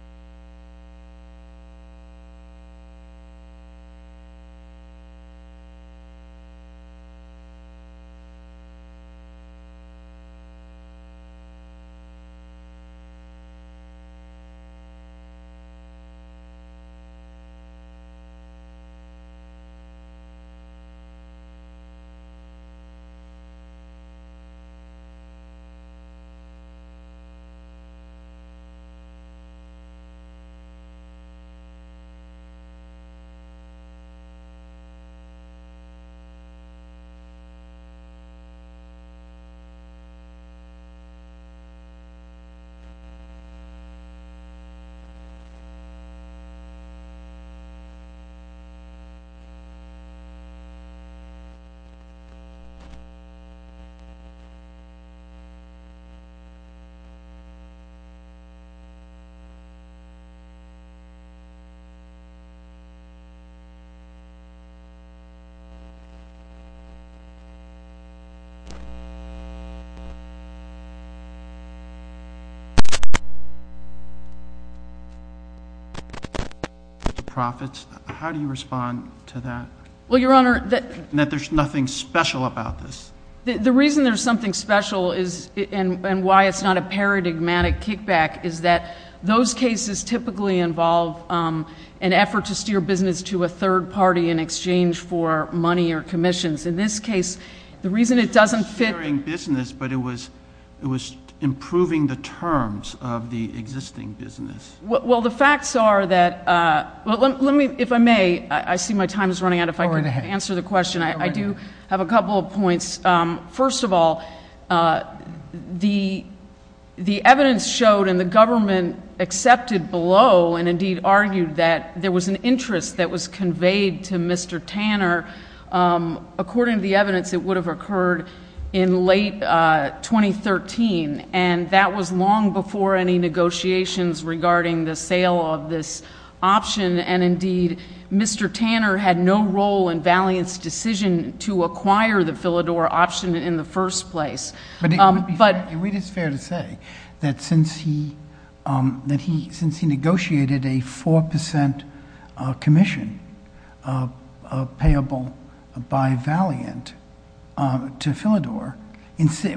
V. President, I am pleased to announce that the U.S. Department of State is officially officially signing the U.S. Department of State Act of 1998. The act was signed by the U.S. Department of State, which is the first of its kind in the history of the United States. The act was signed by the U.S. Department of State, which is the first of its kind in the history of the United States. Mr. Prophets, how do you respond to that? Well, Your Honor, the reason there's something special and why it's not a paradigmatic kickback is that those cases typically involve an effort to steer business to a third party in exchange for money or commissions. In this case, the reason it doesn't fit... Steering business, but it was improving the terms of the existing business. Well, the facts are that... Well, let me, if I may, I see my time is running out, if I can answer the question. I do have a couple of points. First of all, the evidence showed and the government accepted below and indeed argued that there was an interest that was conveyed to Mr. Tanner. According to the evidence, it would have occurred in late 2013, and that was long before any negotiations regarding the sale of this option. And indeed, Mr. Tanner had no role in Valiant's decision to acquire the Philidor option in the first place. It is fair to say that since he negotiated a 4% commission payable by Valiant to Philidor,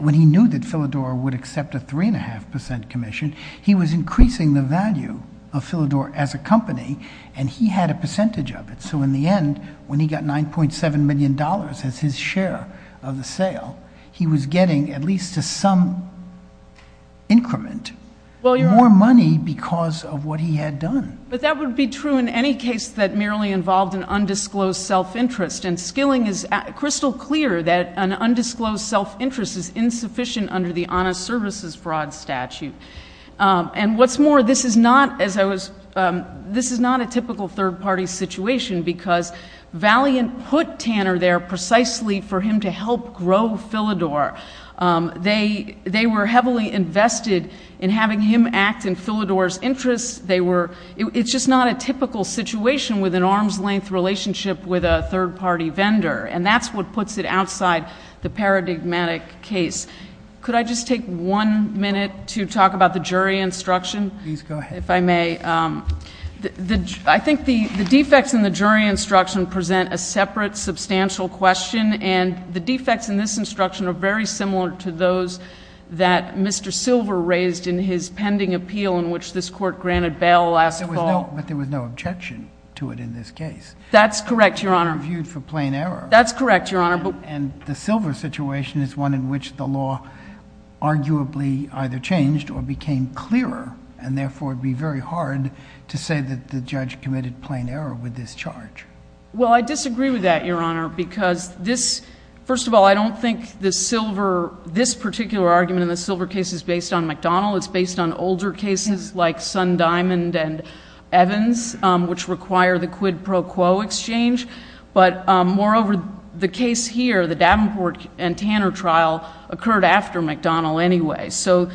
when he knew that Philidor would accept a 3.5% commission, he was increasing the value of Philidor as a company and he had a percentage of it. So in the end, when he got $9.7 million as his share of the sale, he was getting at least some increment, more money because of what he had done. But that would be true in any case that merely involved an undisclosed self-interest, and Skilling is crystal clear that an undisclosed self-interest is insufficient under the Honest Services Broad Statute. And what's more, this is not a typical third-party situation because Valiant put Tanner there precisely for him to help grow Philidor. They were heavily invested in having him act in Philidor's interest. It's just not a typical situation with an arm's-length relationship with a third-party vendor, and that's what puts it outside the paradigmatic case. Could I just take one minute to talk about the jury instruction? Please go ahead. If I may. I think the defects in the jury instruction present a separate, substantial question, and the defects in this instruction are very similar to those that Mr. Silver raised in his pending appeal in which this Court granted bail last fall. But there was no objection to it in this case. That's correct, Your Honor. It was viewed for plain error. That's correct, Your Honor. And the Silver situation is one in which the law arguably either changed or became clearer, and therefore it would be very hard to say that the judge committed plain error with this charge. Well, I disagree with that, Your Honor, because this, first of all, I don't think this particular argument in the Silver case is based on McDonnell. It's based on older cases like Sundiamond and Evans, which require the quid pro quo exchange. But moreover, the case here, the Davenport and Tanner trial, occurred after McDonnell anyway. So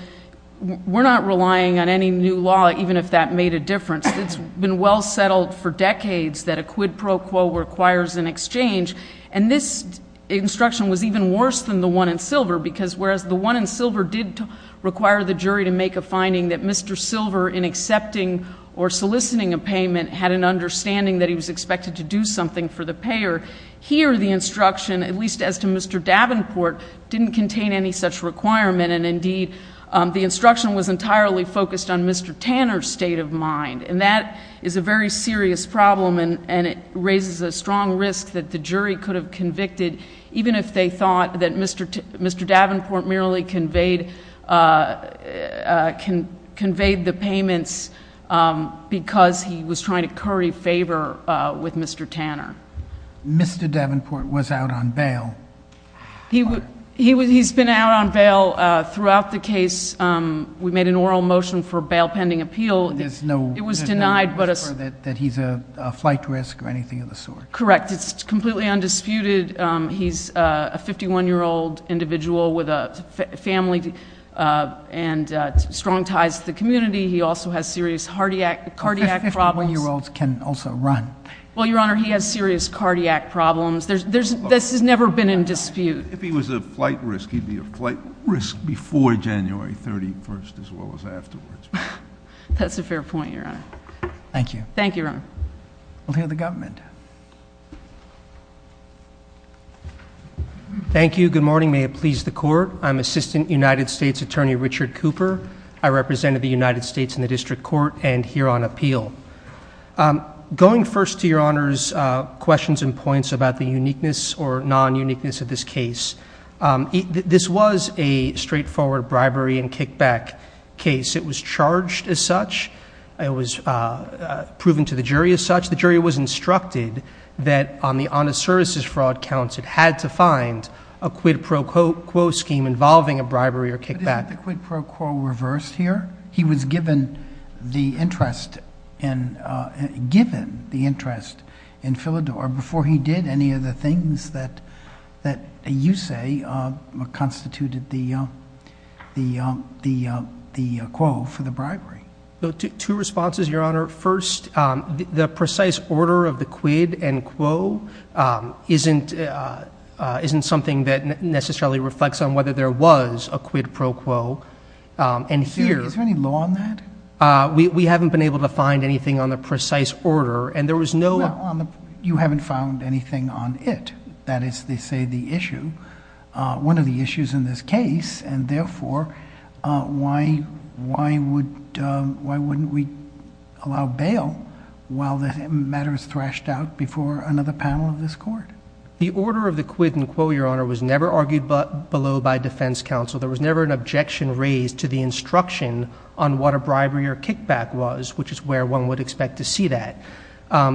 we're not relying on any new law, even if that made a difference. It's been well settled for decades that a quid pro quo requires an exchange. And this instruction was even worse than the one in Silver, because whereas the one in Silver did require the jury to make a finding that Mr. Silver, in accepting or soliciting a payment, had an understanding that he was expected to do something for the payer, here the instruction, at least as to Mr. Davenport, didn't contain any such requirement. And indeed, the instruction was entirely focused on Mr. Tanner's state of mind. And that is a very serious problem, and it raises a strong risk that the jury could have convicted, even if they thought that Mr. Davenport merely conveyed the payments because he was trying to curry favor with Mr. Tanner. Mr. Davenport was out on bail. He's been out on bail throughout the case. We made an oral motion for bail pending appeal. It was denied. That he's a flight risk or anything of the sort. Correct. It's completely undisputed. He's a 51-year-old individual with a family and strong ties to the community. He also has serious cardiac problems. 51-year-olds can also run. Well, Your Honor, he has serious cardiac problems. This has never been in dispute. If he was a flight risk, he'd be a flight risk before January 31st, as well as afterwards. That's a fair point, Your Honor. Thank you. Thank you, Your Honor. We'll hear the government. Thank you. Good morning. May it please the Court. I'm Assistant United States Attorney Richard Cooper. I represent the United States in the District Court and here on appeal. Going first to Your Honor's questions and points about the uniqueness or non-uniqueness of this case, this was a straightforward bribery and kickback case. It was charged as such. It was proven to the jury as such. The jury was instructed that on the honest services fraud counts, it had to find a quid pro quo scheme involving a bribery or kickback. Did the quid pro quo reverse here? He was given the interest in Philidor before he did any of the things that you say constituted the quo for the bribery. Two responses, Your Honor. First, the precise order of the quid and quo isn't something that necessarily reflects on whether there was a quid pro quo. Is there any law on that? We haven't been able to find anything on the precise order. You haven't found anything on it. That is, they say, the issue. One of the issues in this case, and therefore, why wouldn't we allow bail while the matter is thrashed out before another panel of this Court? The order of the quid and quo, Your Honor, was never argued below by defense counsel. There was never an objection raised to the instruction on what a bribery or kickback was, which is where one would expect to see that.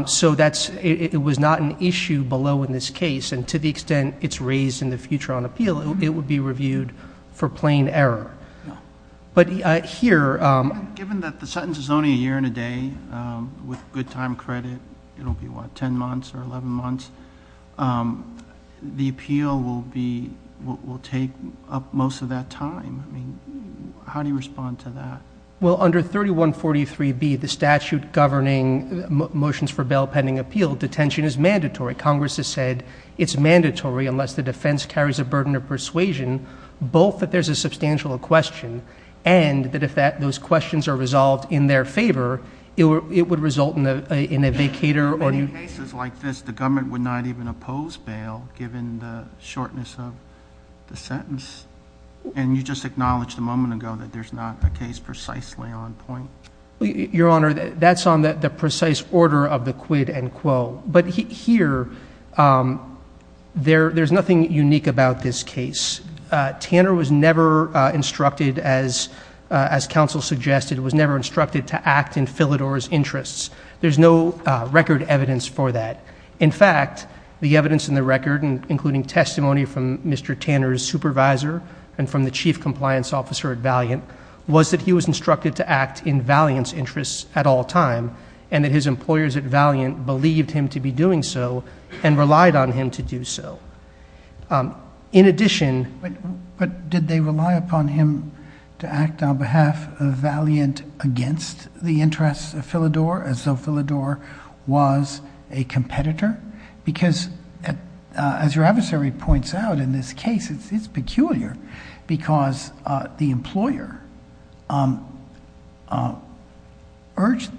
So it was not an issue below in this case, and to the extent it's raised in the future on appeal, it would be reviewed for plain error. Given that the sentence is only a year and a day, with good time credit, it will be, what, 10 months or 11 months, the appeal will take up most of that time. How do you respond to that? Well, under 3143B, the statute governing motions for bail pending appeal, detention is mandatory. Congress has said it's mandatory unless the defense carries a burden of persuasion. Both that there's a substantial question, and that if those questions are resolved in their favor, it would result in a vacater. In cases like this, the government would not even oppose bail, given the shortness of the sentence? And you just acknowledged a moment ago that there's not a case precisely on point. Your Honor, that's on the precise order of the quid and quo. But here, there's nothing unique about this case. Tanner was never instructed, as counsel suggested, was never instructed to act in Philidor's interests. There's no record evidence for that. In fact, the evidence in the record, including testimony from Mr. Tanner's supervisor and from the chief compliance officer at Valiant, was that he was instructed to act in Valiant's interests at all time, and that his employers at Valiant believed him to be doing so and relied on him to do so. In addition... But did they rely upon him to act on behalf of Valiant against the interests of Philidor, as though Philidor was a competitor? Because, as your adversary points out in this case, it's peculiar, because the employer urged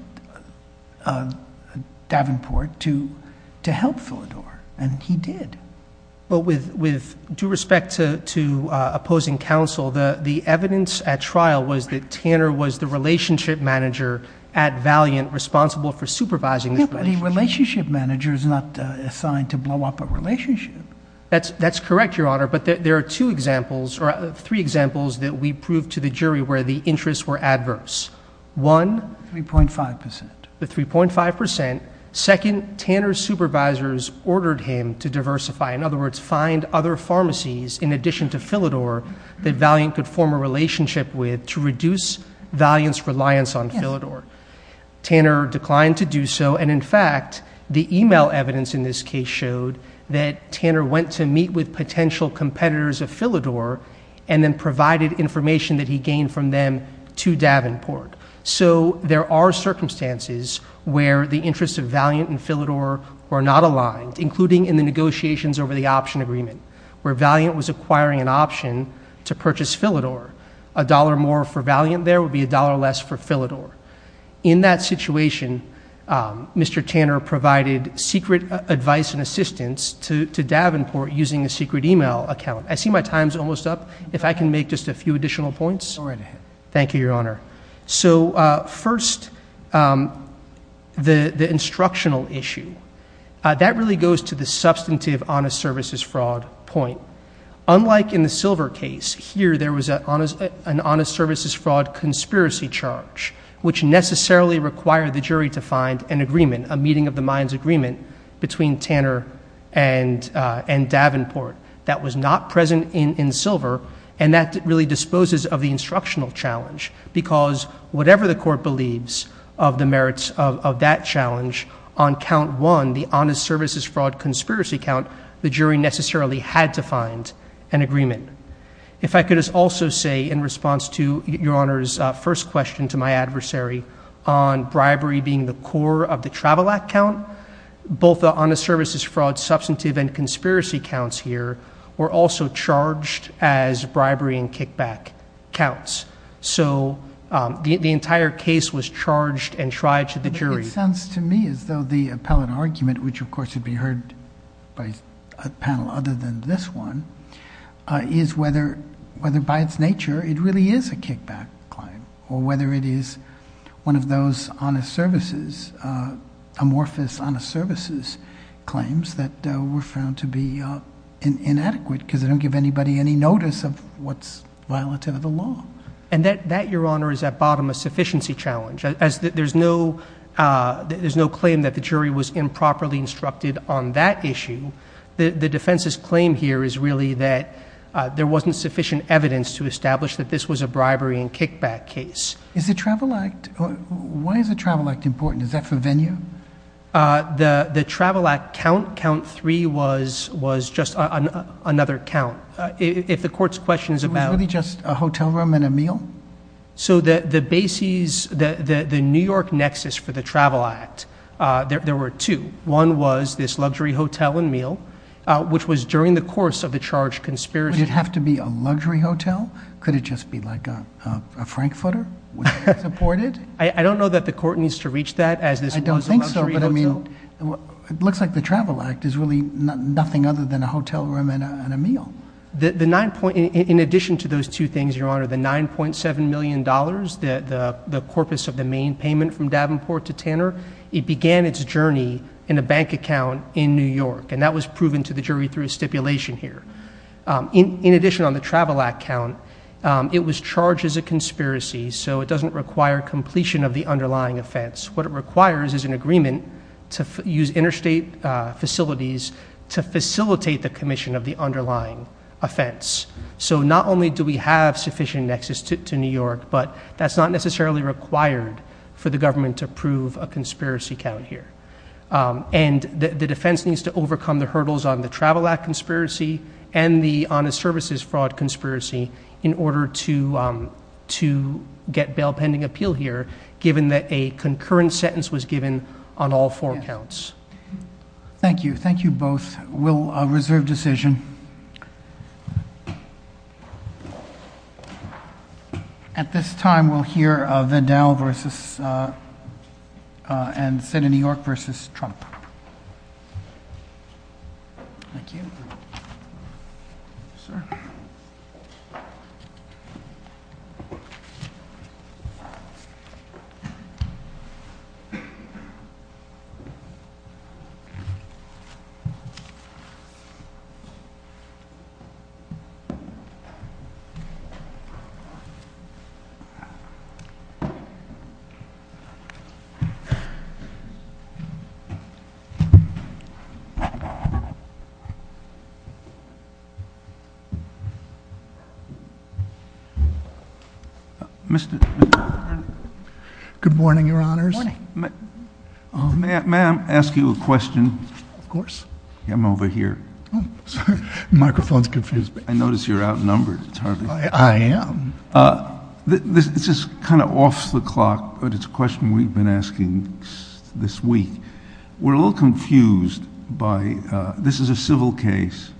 Davenport to help Philidor, and he did. But with due respect to opposing counsel, the evidence at trial was that Tanner was the relationship manager at Valiant, responsible for supervising the relationship. But the relationship manager is not assigned to blow up a relationship. That's correct, Your Honor, but there are three examples that we proved to the jury where the interests were adverse. One... 3.5 percent. The 3.5 percent. Second, Tanner's supervisors ordered him to diversify, in other words, find other pharmacies in addition to Philidor that Valiant could form a relationship with to reduce Valiant's reliance on Philidor. Tanner declined to do so, and in fact, the email evidence in this case showed that Tanner went to meet with potential competitors at Philidor and then provided information that he gained from them to Davenport. So there are circumstances where the interests of Valiant and Philidor were not aligned, including in the negotiations over the option agreement, where Valiant was acquiring an option to purchase Philidor. A dollar more for Valiant there would be a dollar less for Philidor. In that situation, Mr. Tanner provided secret advice and assistance to Davenport using a secret email account. I see my time's almost up. If I can make just a few additional points. Go right ahead. Thank you, Your Honor. So first, the instructional issue. That really goes to the substantive honest services fraud point. Unlike in the Silver case, here there was an honest services fraud conspiracy charge, which necessarily required the jury to find an agreement, a meeting of the minds agreement, between Tanner and Davenport. That was not present in Silver, and that really disposes of the instructional challenge, because whatever the court believes of the merits of that challenge, on count one, the honest services fraud conspiracy count, the jury necessarily had to find an agreement. If I could also say in response to Your Honor's first question to my adversary on bribery being the core of the Travel Act count, both the honest services fraud substantive and conspiracy counts here were also charged as bribery and kickback counts. So the entire case was charged and tried to the jury. It sounds to me as though the appellate argument, which of course would be heard by a panel other than this one, is whether by its nature it really is a kickback claim, or whether it is one of those amorphous honest services claims that were found to be inadequate, because they don't give anybody any notice of what's violative of the law. And that, Your Honor, is at bottom a sufficiency challenge. There's no claim that the jury was improperly instructed on that issue. The defense's claim here is really that there wasn't sufficient evidence to establish that this was a bribery and kickback case. Why is the Travel Act important? Is that for venue? The Travel Act count, count three, was just another count. If the court's question is about- Was it really just a hotel room and a meal? So the basis, the New York nexus for the Travel Act, there were two. One was this luxury hotel and meal, which was during the course of the charged conspiracy. Did it have to be a luxury hotel? Could it just be like a Frankfurter, which was supported? I don't know that the court needs to reach that. I don't think so. It looks like the Travel Act is really nothing other than a hotel room and a meal. In addition to those two things, Your Honor, the $9.7 million, the corpus of the main payment from Davenport to Tanner, it began its journey in a bank account in New York, and that was proven to the jury through a stipulation here. In addition on the Travel Act count, it was charged as a conspiracy, so it doesn't require completion of the underlying offense. What it requires is an agreement to use interstate facilities to facilitate the commission of the underlying offense. So not only do we have sufficient nexus to New York, but that's not necessarily required for the government to prove a conspiracy count here. The defense needs to overcome the hurdles on the Travel Act conspiracy and the Honest Services fraud conspiracy in order to get bail pending appeal here, given that a concurrent sentence was given on all four counts. Thank you. Thank you both. We'll reserve decision. At this time, we'll hear Vandell and the Senate of New York versus Trump. Mr. Good morning, Your Honors. May I ask you a question? Of course. I'm over here. The microphone's confused. I notice you're outnumbered. I am. This is kind of off the clock, but it's a question we've been asking this week. We're a little confused by this is a civil case.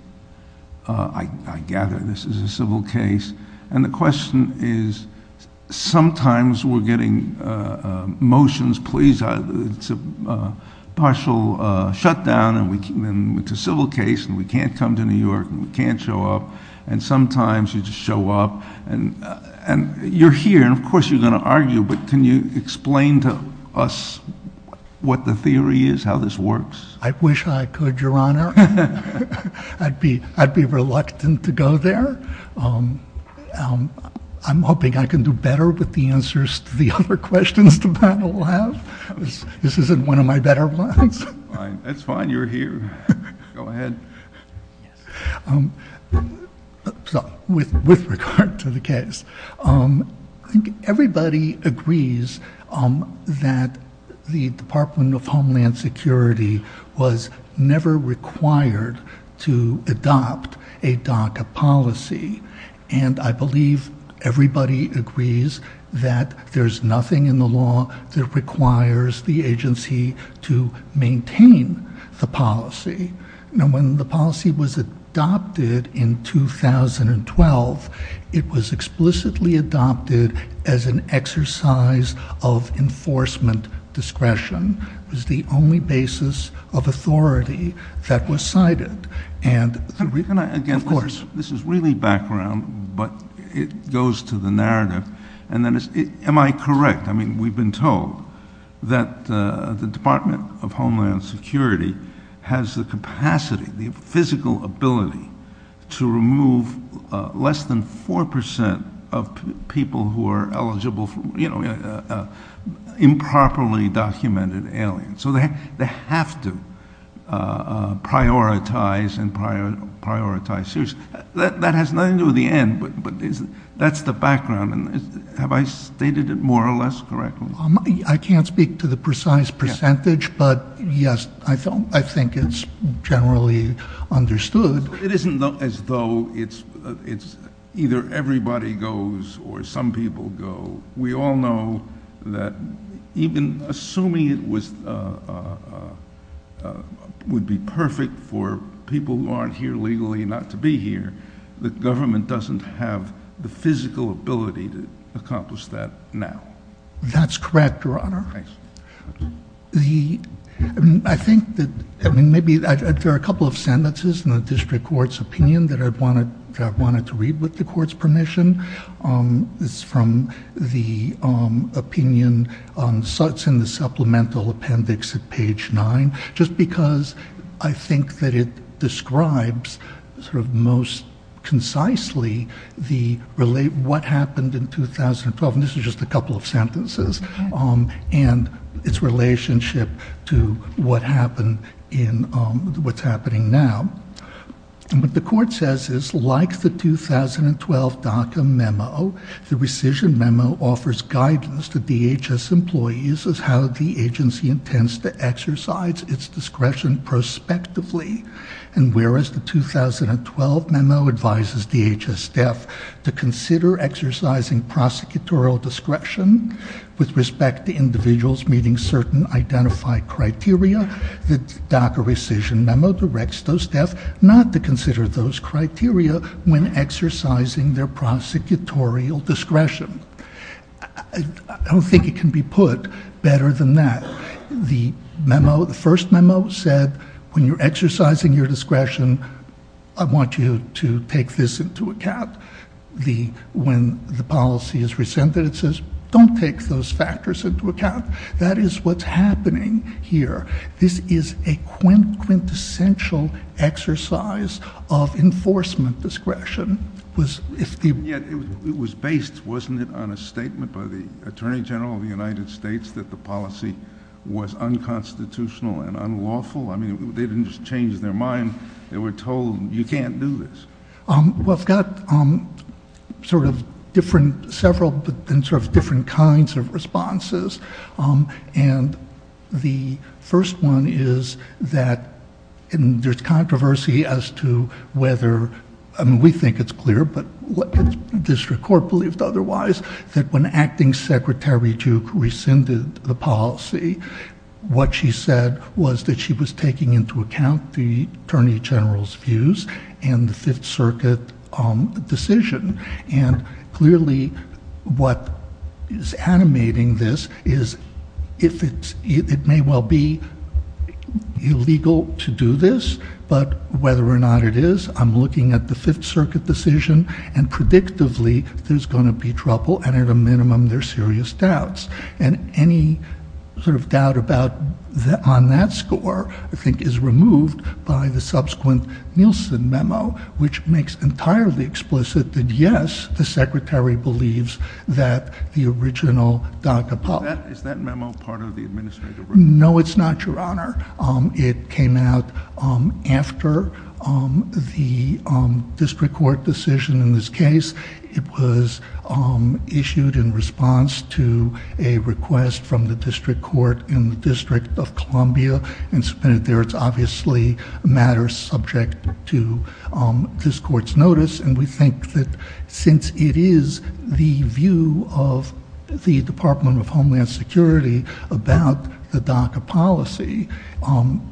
I gather this is a civil case. And the question is, sometimes we're getting motions, please, to partial shutdown. And it's a civil case. We can't come to New York. We can't show up. And sometimes you just show up. And you're here. Of course, you're going to argue. But can you explain to us what the theory is, how this works? I wish I could, Your Honor. I'd be reluctant to go there. I'm hoping I can do better with the answers to the other questions the panel will have. This isn't one of my better ones. That's fine. You're here. Go ahead. With regard to the case, everybody agrees that the Department of Homeland Security was never required to adopt a DACA policy. And I believe everybody agrees that there's nothing in the law that requires the agency to maintain the policy. And when the policy was adopted in 2012, it was explicitly adopted as an exercise of enforcement discretion. It was the only basis of authority that was cited. Can we connect again? Of course. This is really background, but it goes to the narrative. Am I correct? I mean, we've been told that the Department of Homeland Security has the capacity, the physical ability, to remove less than 4% of people who are eligible for, you know, improperly documented aliens. So they have to prioritize and prioritize seriously. That has led to the end, but that's the background. Have I stated it more or less correctly? I can't speak to the precise percentage, but, yes, I think it's generally understood. It isn't as though it's either everybody goes or some people go. We all know that even assuming it would be perfect for people who aren't here legally not to be here, the government doesn't have the physical ability to accomplish that now. That's correct, Your Honor. Thanks. I think that maybe there are a couple of sentences in the district court's opinion that I wanted to read with the court's permission. It's from the opinion in the supplemental appendix at page 9, just because I think that it describes sort of most concisely what happened in 2012. This is just a couple of sentences and its relationship to what happened in what's happening now. What the court says is, like the 2012 DACA memo, the rescission memo offers guidance to DHS employees as how the agency intends to exercise its discretion prospectively. Whereas the 2012 memo advises DHS staff to consider exercising prosecutorial discretion with respect to individuals meeting certain identified criteria, the DACA rescission memo directs those staff not to consider those criteria when exercising their prosecutorial discretion. I don't think it can be put better than that. The first memo said, when you're exercising your discretion, I want you to take this into account. When the policy is rescinded, it says, don't take those factors into account. That is what's happening here. This is a quintessential exercise of enforcement discretion. It was based, wasn't it, on a statement by the Attorney General of the United States that the policy was unconstitutional and unlawful? I mean, they didn't just change their mind. They were told, you can't do this. Well, it's got several different kinds of responses. And the first one is that there's controversy as to whether, I mean, we think it's clear, but what the district court believed otherwise, that when Acting Secretary Duke rescinded the policy, what she said was that she was taking into account the Attorney General's views and the Fifth Circuit decision. And clearly, what is animating this is, it may well be illegal to do this, but whether or not it is, I'm looking at the Fifth Circuit decision, and predictively, there's going to be trouble, and at a minimum, there are serious doubts. And any sort of doubt on that score, I think, is removed by the subsequent Nielsen memo, which makes entirely explicit that, yes, the Secretary believes that the original DACA policy— Is that memo part of the administrative report? No, it's not, Your Honor. It came out after the district court decision in this case. It was issued in response to a request from the district court in the District of Columbia. It's obviously a matter subject to this court's notice, and we think that since it is the view of the Department of Homeland Security about the DACA policy,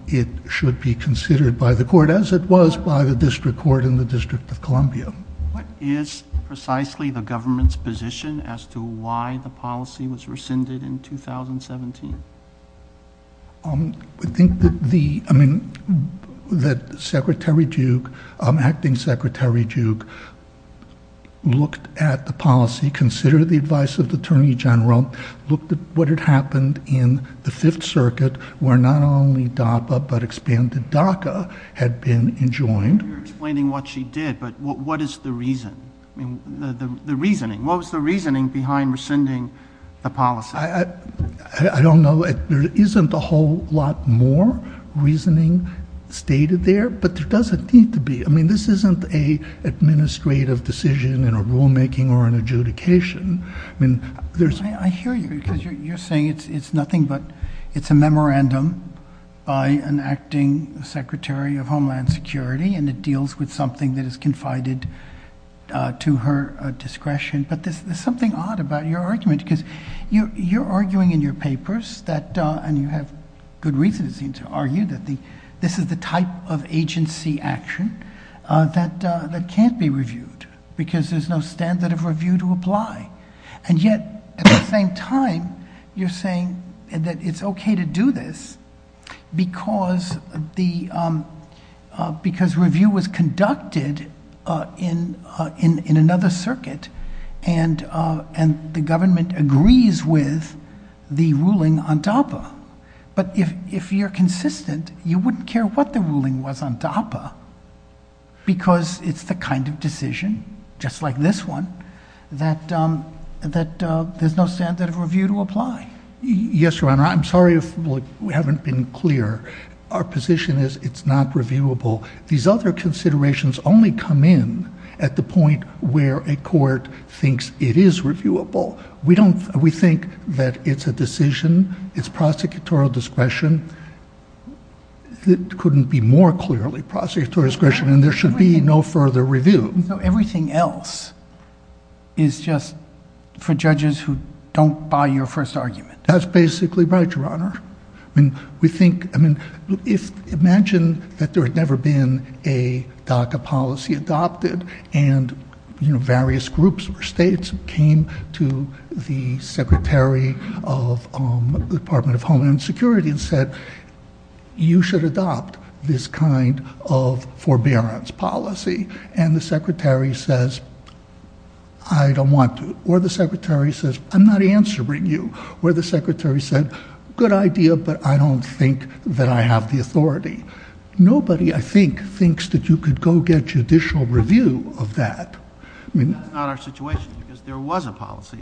it should be considered by the court, as it was by the district court in the District of Columbia. What is precisely the government's position as to why the policy was rescinded in 2017? I think that the—I mean, that Secretary Duke, Acting Secretary Duke, looked at the policy, considered the advice of the Attorney General, looked at what had happened in the Fifth Circuit, where not only DAPA but expanded DACA had been enjoined. You're explaining what she did, but what is the reason? I mean, the reasoning. What was the reasoning behind rescinding the policy? I don't know. There isn't a whole lot more reasoning stated there, but there doesn't need to be. I mean, this isn't an administrative decision in a rulemaking or an adjudication. I hear you, because you're saying it's nothing but—it's a memorandum by an acting Secretary of Homeland Security, and it deals with something that is confided to her discretion. But there's something odd about your argument, because you're arguing in your papers that—and you have good reasoning to argue that this is the type of agency action that can't be reviewed, because there's no standard of review to apply. And yet, at the same time, you're saying that it's okay to do this because review was conducted in another circuit, and the government agrees with the ruling on DAPA. But if you're consistent, you wouldn't care what the ruling was on DAPA, because it's the kind of decision, just like this one, that there's no standard of review to apply. Yes, Your Honor. I'm sorry if we haven't been clear. Our position is it's not reviewable. These other considerations only come in at the point where a court thinks it is reviewable. We think that it's a decision. It's prosecutorial discretion. It couldn't be more clearly prosecutorial discretion, and there should be no further review. Everything else is just for judges who don't buy your first argument. That's basically right, Your Honor. Imagine that there had never been a DACA policy adopted, and various groups or states came to the Secretary of the Department of Homeland Security and said, You should adopt this kind of forbearance policy, and the Secretary says, I don't want to. Or the Secretary says, I'm not answering you. Or the Secretary said, good idea, but I don't think that I have the authority. Nobody, I think, thinks that you could go get judicial review of that. That's not our situation, because there was a policy.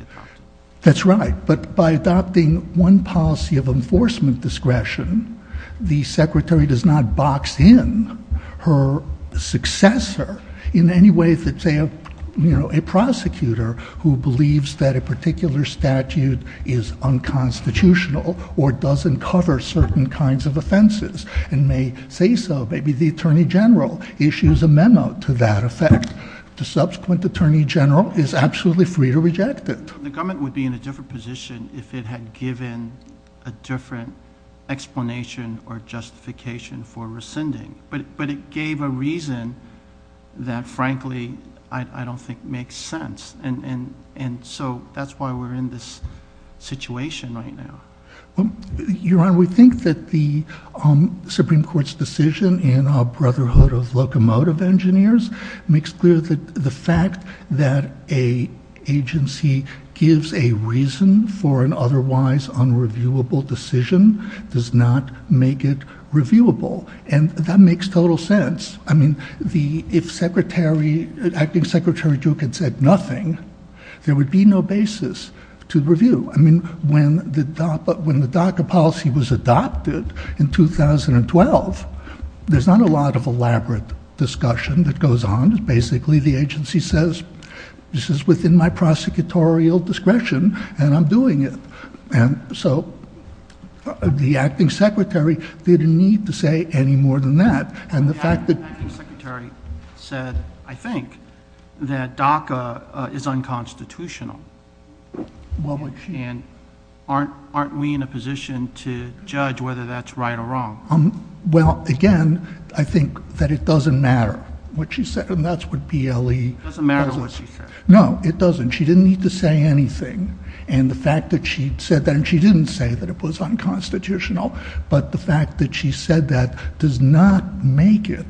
That's right, but by adopting one policy of enforcement discretion, the Secretary does not box in her successor in any way, if it's a prosecutor who believes that a particular statute is unconstitutional or doesn't cover certain kinds of offenses, and may say so, maybe the Attorney General issues a memo to that effect. The subsequent Attorney General is absolutely free to reject it. The government would be in a different position if it had given a different explanation or justification for rescinding. But it gave a reason that, frankly, I don't think makes sense. And so that's why we're in this situation right now. Your Honor, we think that the Supreme Court's decision in our Brotherhood of Locomotive Engineers makes clear that the fact that an agency gives a reason for an otherwise unreviewable decision does not make it reviewable. And that makes total sense. I mean, if Acting Secretary Duke had said nothing, there would be no basis to review. I mean, when the DACA policy was adopted in 2012, there's not a lot of elaborate discussion that goes on. Basically, the agency says, this is within my prosecutorial discretion, and I'm doing it. And so the Acting Secretary didn't need to say any more than that. The Acting Secretary said, I think, that DACA is unconstitutional. And aren't we in a position to judge whether that's right or wrong? Well, again, I think that it doesn't matter what she said, and that's what DLE... It doesn't matter what she said. No, it doesn't. She didn't need to say anything. And the fact that she said that, and she didn't say that it was unconstitutional, but the fact that she said that does not make it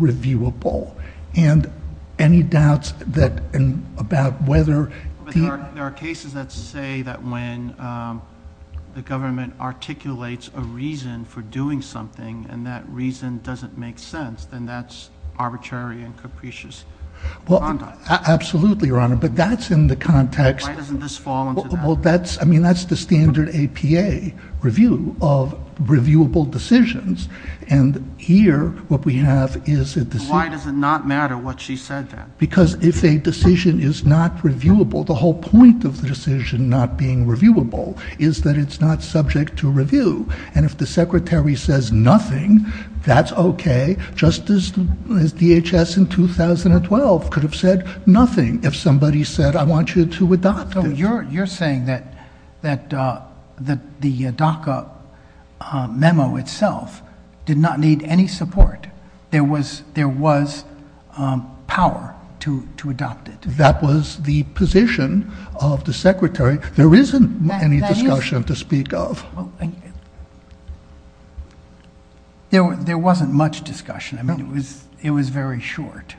reviewable. And any doubts about whether... There are cases that say that when the government articulates a reason for doing something, and that reason doesn't make sense, then that's arbitrary and capricious. Absolutely, Your Honor, but that's in the context... Why doesn't this fall into that? I mean, that's the standard APA review of reviewable decisions. And here what we have is a decision... Why does it not matter what she said then? Because if a decision is not reviewable, the whole point of the decision not being reviewable is that it's not subject to review. And if the Secretary says nothing, that's okay, just as DHS in 2012 could have said nothing if somebody said, I want you to adopt. So you're saying that the DACA memo itself did not need any support. There was power to adopt it. That was the position of the Secretary. There isn't any discussion to speak of. There wasn't much discussion. It was very short.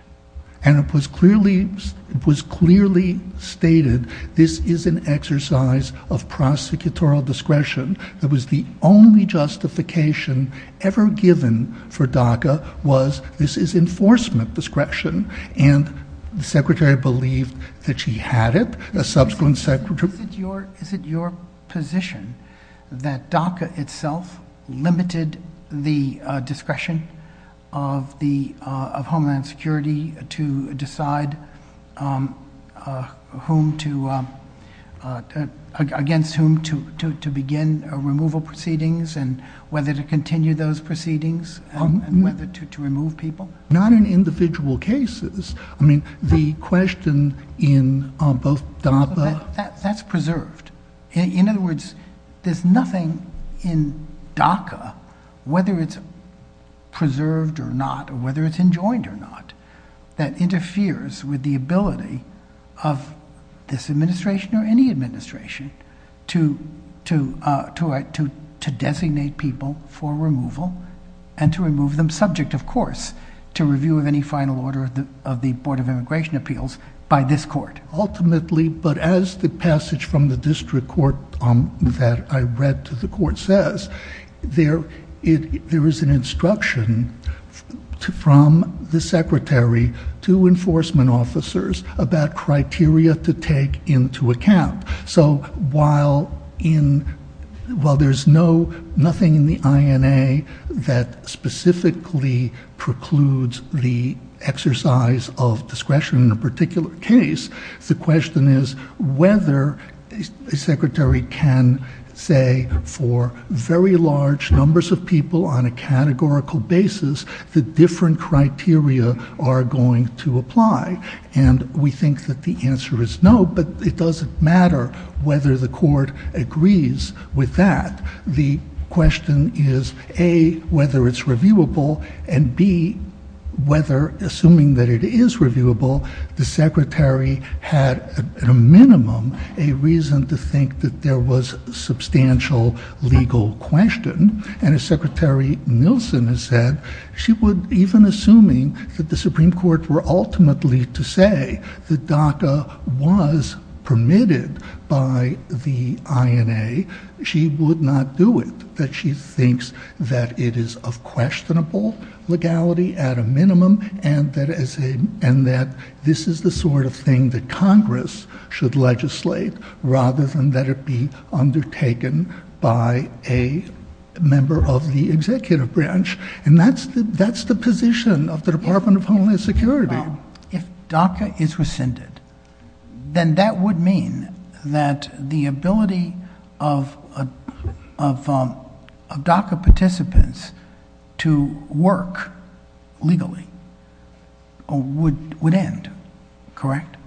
And it was clearly stated this is an exercise of prosecutorial discretion. It was the only justification ever given for DACA was this is enforcement discretion. And the Secretary believed that she had it. The subsequent Secretary... Is it your position that DACA itself limited the discretion of Homeland Security to decide against whom to begin removal proceedings and whether to continue those proceedings and whether to remove people? Not in individual cases. The question in both DACA... That's preserved. In other words, there's nothing in DACA, whether it's preserved or not, whether it's enjoined or not, that interferes with the ability of this administration or any administration to designate people for removal and to remove them, subject, of course, to review of any final order of the Board of Immigration Appeals by this court. Ultimately, but as the passage from the district court that I read to the court says, there is an instruction from the Secretary to enforcement officers about criteria to take into account. So while there's nothing in the INA that specifically precludes the exercise of discretion in a particular case, the question is whether a Secretary can say for very large numbers of people on a categorical basis that different criteria are going to apply. And we think that the answer is no, but it doesn't matter whether the court agrees with that. The question is, A, whether it's reviewable, and, B, whether, assuming that it is reviewable, the Secretary had, at a minimum, a reason to think that there was substantial legal question. And as Secretary Nielsen has said, even assuming that the Supreme Court were ultimately to say that DACA was permitted by the INA, she would not do it, that she thinks that it is of questionable legality at a minimum and that this is the sort of thing that Congress should legislate rather than that it be undertaken by a member of the executive branch. And that's the position of the Department of Homeland Security. If DACA is rescinded, then that would mean that the ability of DACA participants to work legally would end, correct?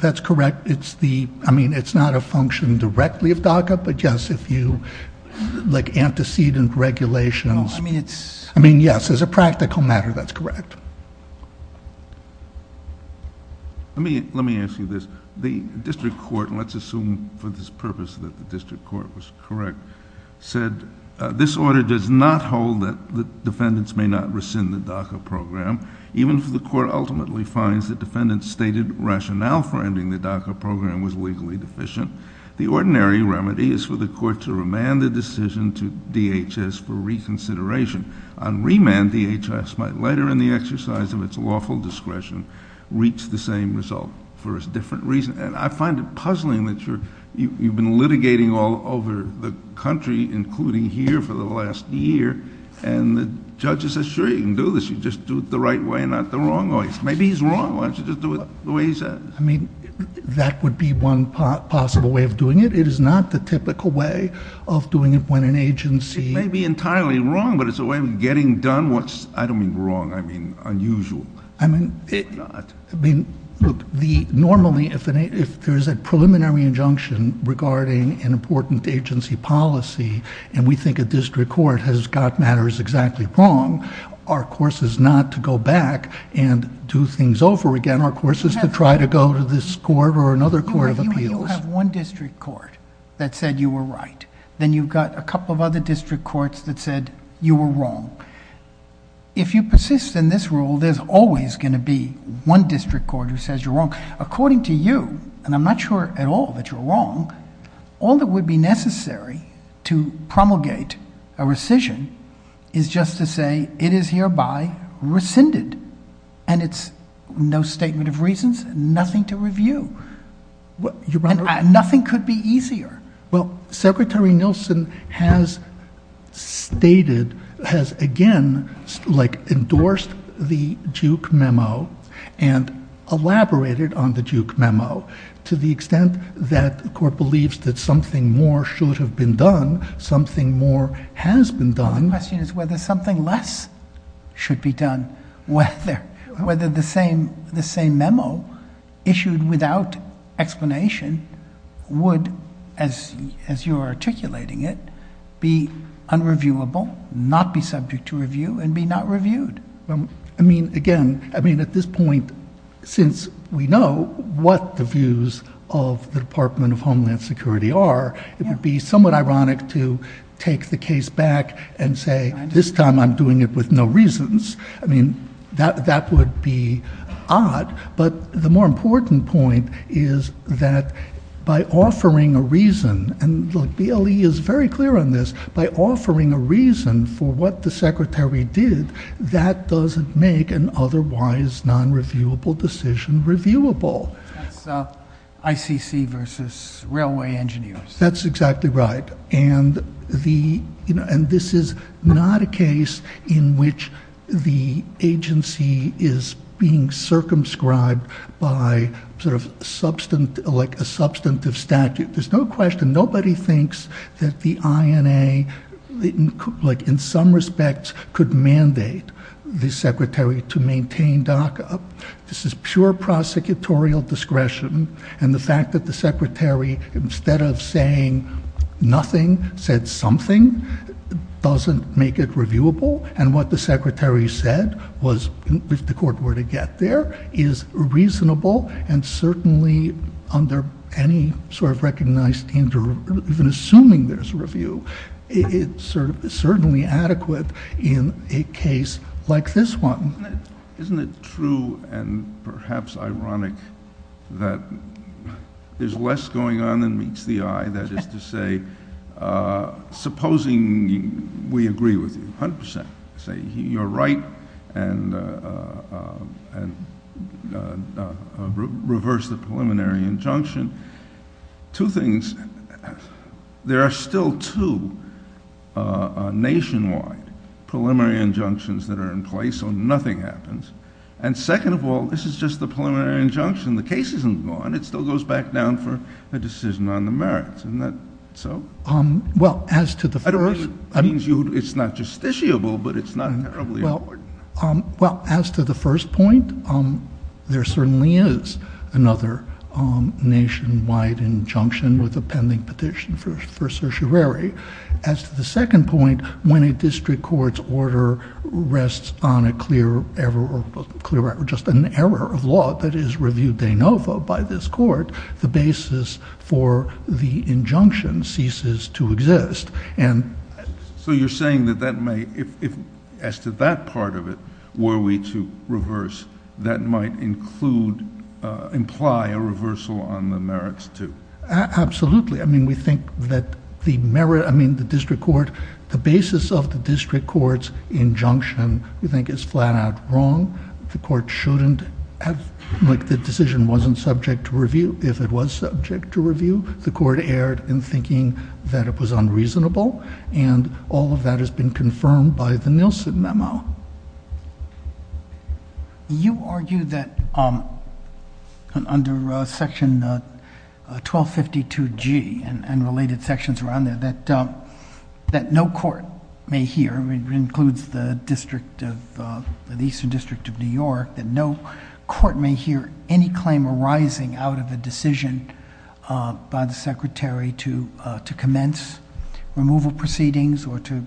That's correct. I mean, it's not a function directly of DACA, but just if you like antecedent regulation. I mean, yes, as a practical matter, that's correct. Let me ask you this. The district court, and let's assume for this purpose that the district court was correct, said this order does not hold that defendants may not rescind the DACA program, even if the court ultimately finds that defendants stated rationale for ending the DACA program was legally deficient. The ordinary remedy is for the court to remand the decision to DHS for reconsideration. On remand, DHS might later in the exercise of its lawful discretion reach the same result for a different reason. And I find it puzzling that you've been litigating all over the country, including here, for the last year, and the judge says, sure, you can do this. You just do it the right way, not the wrong way. Maybe he's wrong. Why don't you just do it the way he says? I mean, that would be one possible way of doing it. It is not the typical way of doing it when an agency... It may be entirely wrong, but it's a way of getting done what's, I don't mean wrong, I mean unusual. I mean, normally, if there is a preliminary injunction regarding an important agency policy, and we think a district court has got matters exactly wrong, our course is not to go back and do things over again. Our course is to try to go to this court or another court of appeals. You have one district court that said you were right. Then you've got a couple of other district courts that said you were wrong. If you persist in this rule, there's always going to be one district court who says you're wrong. According to you, and I'm not sure at all that you're wrong, all that would be necessary to promulgate a rescission is just to say it is hereby rescinded, and it's no statement of reasons, nothing to review. Nothing could be easier. Well, Secretary Nielsen has stated, has again endorsed the Duke memo and elaborated on the Duke memo to the extent that the court believes that something more should have been done, something more has been done. The question is whether something less should be done. Whether the same memo issued without explanation would, as you're articulating it, be unreviewable, not be subject to review, and be not reviewed. Again, at this point, since we know what the views of the Department of Homeland Security are, it would be somewhat ironic to take the case back and say this time I'm doing it with no reasons. I mean, that would be odd, but the more important point is that by offering a reason, and the LEA is very clear on this, by offering a reason for what the Secretary did, that doesn't make an otherwise non-reviewable decision reviewable. The ICC versus railway engineers. That's exactly right, and this is not a case in which the agency is being circumscribed by a substantive statute. There's no question, nobody thinks that the INA, in some respects, could mandate the Secretary to maintain DACA. This is pure prosecutorial discretion, and the fact that the Secretary, instead of saying nothing, said something, doesn't make it reviewable, and what the Secretary said was, if the court were to get there, is reasonable, and certainly under any sort of recognized danger, even assuming there's review, it's certainly adequate in a case like this one. Isn't it true, and perhaps ironic, that there's less going on than meets the eye, that is to say, supposing we agree with you 100%, say you're right, and reverse the preliminary injunction, two things, there are still two nationwide preliminary injunctions that are in place, so nothing happens, and second of all, this is just the preliminary injunction, the case isn't gone, it still goes back down for a decision on the merits, isn't that so? Well, as to the federalism, I mean, it's not justiciable, but it's not in the earlier court. Well, as to the first point, there certainly is another nationwide injunction with a pending petition for certiorari. As to the second point, when a district court's order rests on a clear error, or just an error of law, that is reviewed de novo by this court, the basis for the injunction ceases to exist. So you're saying that that may, as to that part of it, were we to reverse, that might imply a reversal on the merits too? Absolutely. I mean, we think that the merit, I mean, the district court, the basis of the district court's injunction, we think is flat out wrong, the court shouldn't have, like the decision wasn't subject to review. If it was subject to review, the court erred in thinking that it was unreasonable, and all of that has been confirmed by the Nielsen memo. You argue that under Section 1252G and related sections around there, that no court may hear, it includes the district of, the Eastern District of New York, that no court may hear any claim arising out of a decision by the Secretary to commence removal proceedings, or to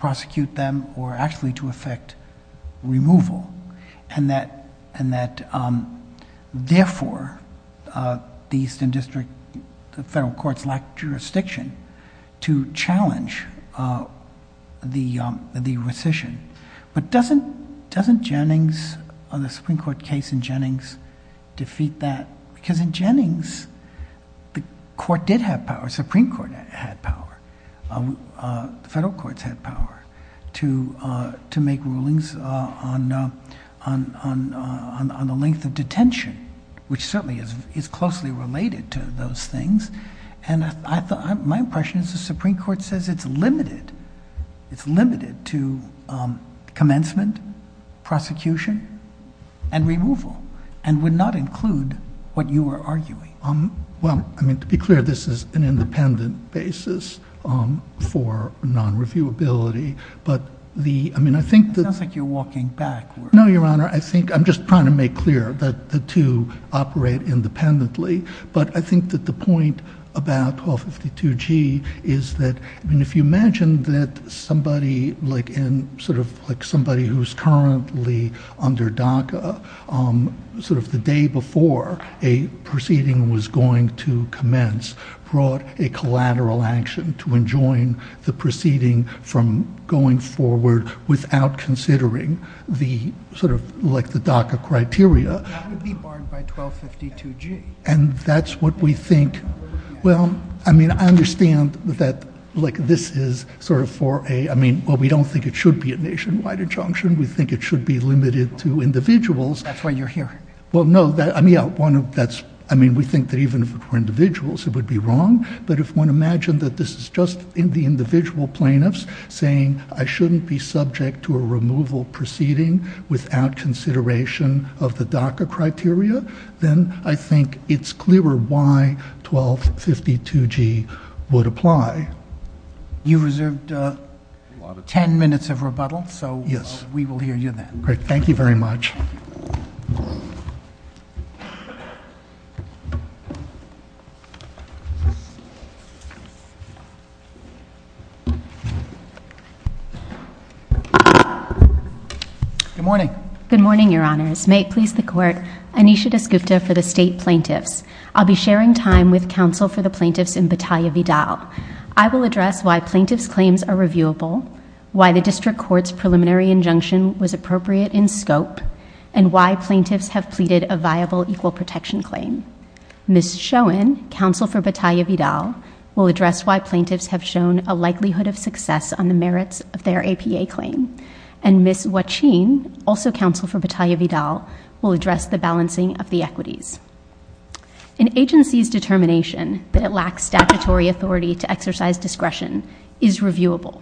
prosecute them, or actually to effect removal. And that, therefore, the Eastern District, the federal courts lack jurisdiction to challenge the rescission. But doesn't Jennings, on the Supreme Court case in Jennings, defeat that? Because in Jennings, the court did have power, the Supreme Court had power, the federal courts had power to make rulings on the length of detention, which certainly is closely related to those things. And my impression is the Supreme Court says it's limited, it's limited to commencement, prosecution, and removal, and would not include what you are arguing. Well, I mean, to be clear, this is an independent basis for non-reviewability, but the, I mean, I think that… It sounds like you're walking backwards. No, Your Honor, I think, I'm just trying to make clear that the two operate independently, but I think that the point about 1252G is that, I mean, if you imagine that somebody like in, sort of like somebody who's currently under DACA, sort of the day before a proceeding was going to commence, brought a collateral action to enjoin the proceeding from going forward without considering the, sort of, like the DACA criteria. That would be barred by 1252G. And that's what we think, well, I mean, I understand that, like, this is sort of for a, I mean, well, we don't think it should be a nationwide injunction, we think it should be limited to individuals. That's what you're hearing. Well, no, I mean, yeah, one of that's, I mean, we think that even for individuals it would be wrong, but if one imagined that this is just in the individual plaintiffs saying, I shouldn't be subject to a removal proceeding without consideration of the DACA criteria, then I think it's clearer why 1252G would apply. You reserved 10 minutes of rebuttal, so we will hear you then. All right, thank you very much. Good morning. Good morning, Your Honors. May it please the Court, Anisha Disgusta for the State Plaintiffs. I'll be sharing time with counsel for the plaintiffs in Battaglia Vidal. I will address why plaintiffs' claims are reviewable, why the district court's preliminary injunction was appropriate in scope, and why plaintiffs have pleaded a viable equal protection claim. Ms. Schoen, counsel for Battaglia Vidal, will address why plaintiffs have shown a likelihood of success on the merits of their APA claim. And Ms. Wachin, also counsel for Battaglia Vidal, will address the balancing of the equities. An agency's determination that it lacks statutory authority to exercise discretion is reviewable.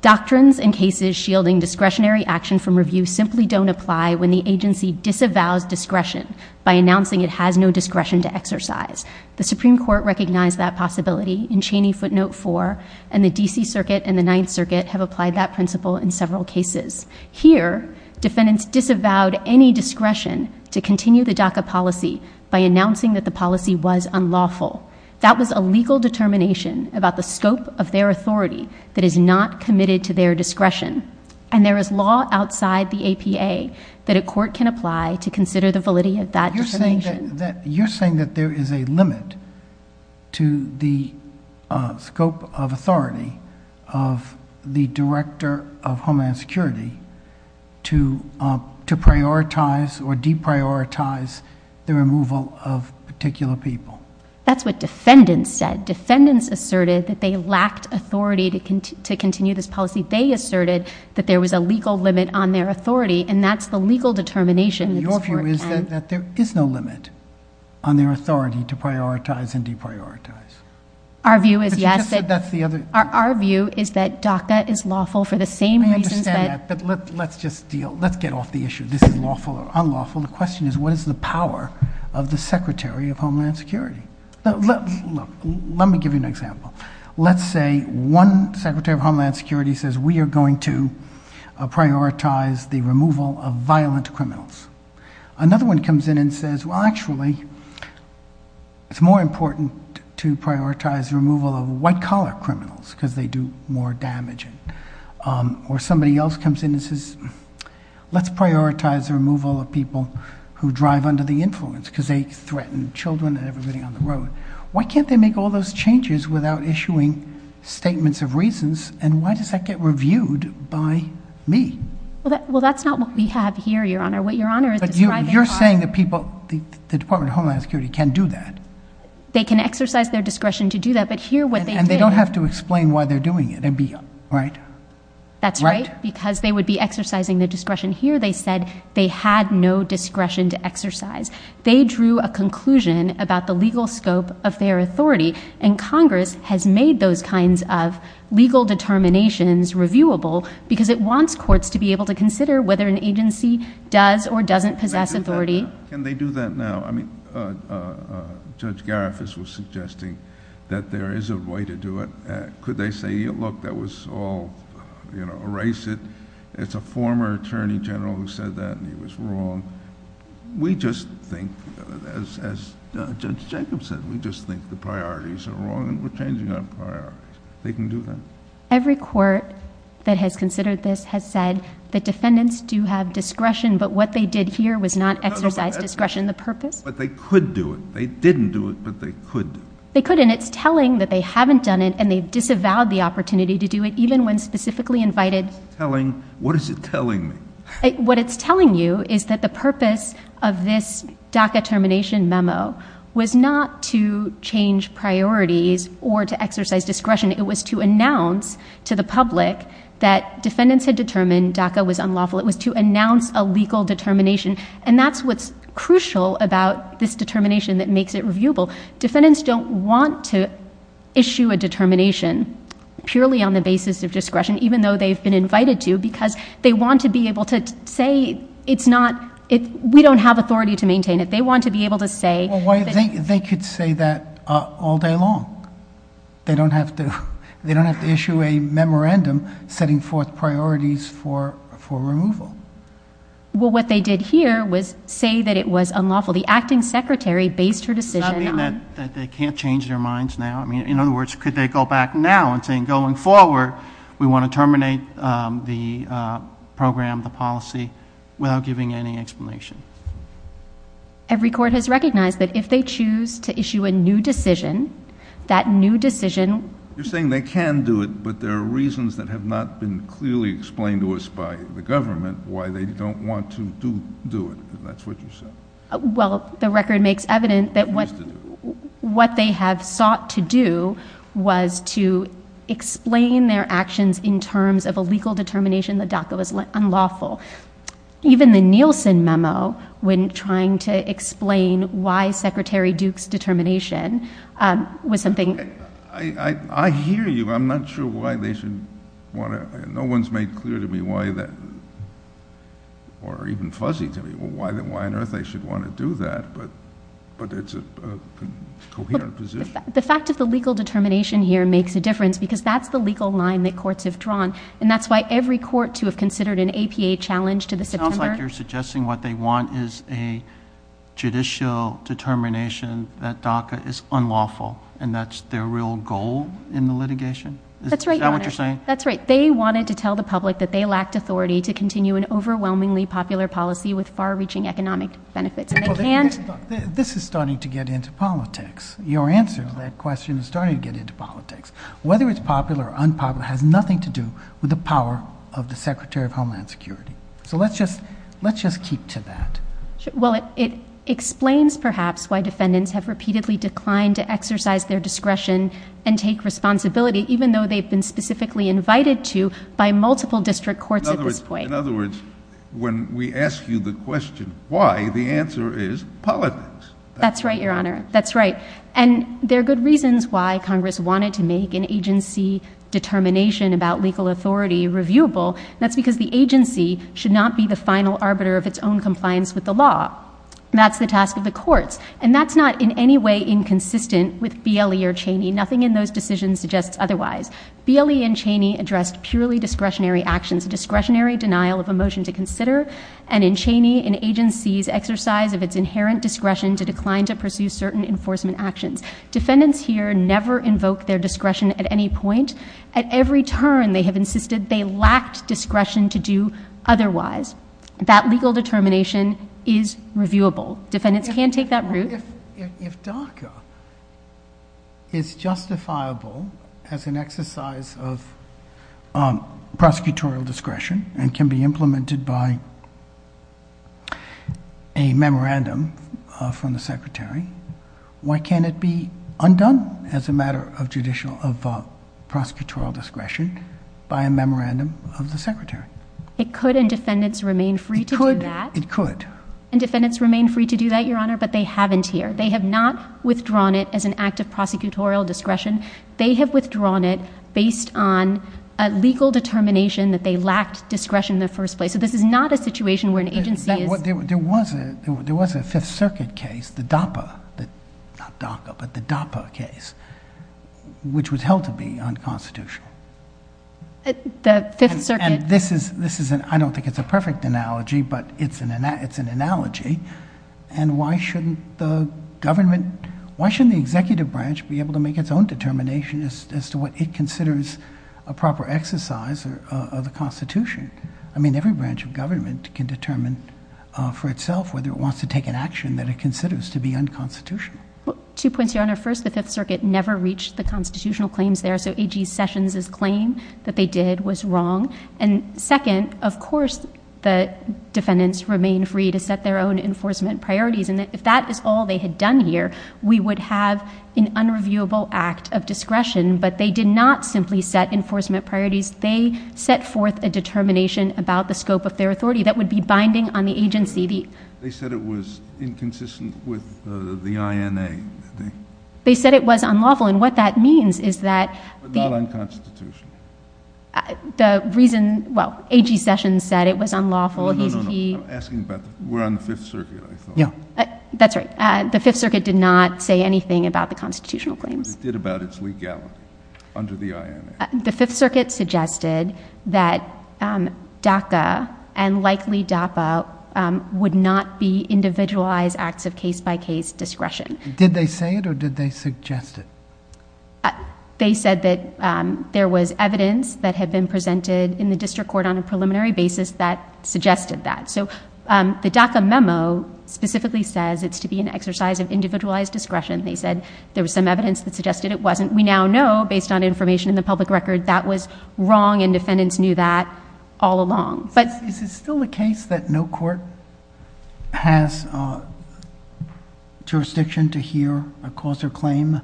Doctrines and cases shielding discretionary action from review simply don't apply when the agency disavows discretion by announcing it has no discretion to exercise. The Supreme Court recognized that possibility in Cheney Footnote 4, and the D.C. Circuit and the Ninth Circuit have applied that principle in several cases. Here, defendants disavowed any discretion to continue the DACA policy by announcing that the policy was unlawful. That was a legal determination about the scope of their authority that is not committed to their discretion. And there is law outside the APA that a court can apply to consider the validity of that determination. You're saying that there is a limit to the scope of authority of the director of Homeland Security to prioritize or deprioritize the removal of particular people. That's what defendants said. Defendants asserted that they lacked authority to continue this policy. They asserted that there was a legal limit on their authority, and that's the legal determination. Your view is that there is no limit on their authority to prioritize and deprioritize. Our view is that DACA is lawful for the same reasons that— Let me just add that. Let's just deal. Let's get off the issue of this is lawful or unlawful. The question is, what is the power of the Secretary of Homeland Security? Look, let me give you an example. Let's say one Secretary of Homeland Security says, We are going to prioritize the removal of violent criminals. Another one comes in and says, Well, actually, it's more important to prioritize the removal of white-collar criminals, because they do more damage. Or somebody else comes in and says, Let's prioritize the removal of people who drive under the influence, because they threaten children and everybody on the road. Why can't they make all those changes without issuing statements of reasons, and why does that get reviewed by me? Well, that's not what we have here, Your Honor. But you're saying that the Department of Homeland Security can do that. They can exercise their discretion to do that, but here what they did— And they don't have to explain why they're doing it, right? That's right, because they would be exercising their discretion. Here they said they had no discretion to exercise. They drew a conclusion about the legal scope of their authority, and Congress has made those kinds of legal determinations reviewable because it wants courts to be able to consider whether an agency does or doesn't possess authority. Can they do that now? Judge Garifas was suggesting that there is a way to do it. Could they say, Look, that was all—erase it. It's a former Attorney General who said that, and he was wrong. We just think, as Judge Jacobson, we just think the priorities are wrong, and we're changing our priorities. They can do that? Every court that has considered this has said that defendants do have discretion, but what they did here was not exercise discretion in the purpose. But they could do it. They didn't do it, but they could. They could, and it's telling that they haven't done it, and they've disavowed the opportunity to do it, even when specifically invited— Telling? What is it telling me? What it's telling you is that the purpose of this DACA termination memo was not to change priorities or to exercise discretion. It was to announce to the public that defendants had determined DACA was unlawful. It was to announce a legal determination, and that's what's crucial about this determination that makes it reviewable. Defendants don't want to issue a determination purely on the basis of discretion, even though they've been invited to, because they want to be able to say it's not— we don't have authority to maintain it. They want to be able to say— Well, they could say that all day long. They don't have to issue a memorandum setting forth priorities for removal. Well, what they did here was say that it was unlawful. The acting secretary based her decision on— Does that mean that they can't change their minds now? In other words, could they go back now and say, going forward, we want to terminate the program, the policy, without giving any explanation? Every court has recognized that if they choose to issue a new decision, that new decision— You're saying they can do it, but there are reasons that have not been clearly explained to us by the government why they don't want to do it, and that's what you're saying. Well, the record makes evident that what they had sought to do was to explain their actions in terms of a legal determination that DACA was unlawful. Even the Nielsen memo, when trying to explain why Secretary Duke's determination was something— I hear you. I'm not sure why they should want to— But it's a coherent position. The fact that the legal determination here makes a difference, because that's the legal line that courts have drawn, and that's why every court to have considered an APA challenge to the— It sounds like you're suggesting what they want is a judicial determination that DACA is unlawful, and that's their real goal in the litigation? That's right. Is that what you're saying? That's right. They wanted to tell the public that they lacked authority to continue an overwhelmingly popular policy with far-reaching economic benefits. This is starting to get into politics. Your answer to that question is starting to get into politics. Whether it's popular or unpopular has nothing to do with the power of the Secretary of Homeland Security. So let's just keep to that. Well, it explains, perhaps, why defendants have repeatedly declined to exercise their discretion and take responsibility, even though they've been specifically invited to by multiple district courts— In other words, when we ask you the question why, the answer is politics. That's right, Your Honor. That's right. And there are good reasons why Congress wanted to make an agency determination about legal authority reviewable. That's because the agency should not be the final arbiter of its own compliance with the law. That's the task of the courts. And that's not in any way inconsistent with BLE or Cheney. Nothing in those decisions suggests otherwise. BLE and Cheney addressed purely discretionary actions, discretionary denial of a motion to consider, and in Cheney, an agency's exercise of its inherent discretion to decline to pursue certain enforcement actions. Defendants here never invoke their discretion at any point. At every turn, they have insisted they lacked discretion to do otherwise. That legal determination is reviewable. Defendants can take that route. If DACA is justifiable as an exercise of prosecutorial discretion and can be implemented by a memorandum from the Secretary, why can't it be undone as a matter of prosecutorial discretion by a memorandum of the Secretary? It could, and defendants remain free to do that. It could. It could. Defendants here, they have not withdrawn it as an act of prosecutorial discretion. They have withdrawn it based on a legal determination that they lacked discretion in the first place. So this is not a situation where an agency is- There was a Fifth Circuit case, the DAPA, not DACA, but the DAPA case, which was held to be unconstitutional. The Fifth Circuit- And this is, I don't think it's a perfect analogy, but it's an analogy. And why shouldn't the government- Why shouldn't the executive branch be able to make its own determination as to what it considers a proper exercise of the Constitution? I mean, every branch of government can determine for itself whether it wants to take an action that it considers to be unconstitutional. Two points, Your Honor. First, the Fifth Circuit never reached the constitutional claims there, so A.G. Sessions' claim that they did was wrong. And second, of course, the defendants remain free to set their own enforcement priorities. And if that is all they had done here, we would have an unreviewable act of discretion. But they did not simply set enforcement priorities. They set forth a determination about the scope of their authority. That would be binding on the agency. They said it was inconsistent with the INA. They said it was unlawful. And what that means is that- But not unconstitutional. The reason- Well, A.G. Sessions said it was unlawful- No, no, no. I'm asking about- We're on the Fifth Circuit, I thought. Yeah. That's right. The Fifth Circuit did not say anything about the constitutional claims. It did about its legality under the INA. The Fifth Circuit suggested that DAPA and likely DAPA would not be individualized acts of case-by-case discretion. Did they say it or did they suggest it? They said that there was evidence that had been presented in the district court on a preliminary basis that suggested that. So the DAPA memo specifically says it's to be an exercise of individualized discretion. They said there was some evidence that suggested it wasn't. We now know, based on information in the public record, that was wrong and defendants knew that all along. Is it still the case that no court has jurisdiction to hear a cause or claim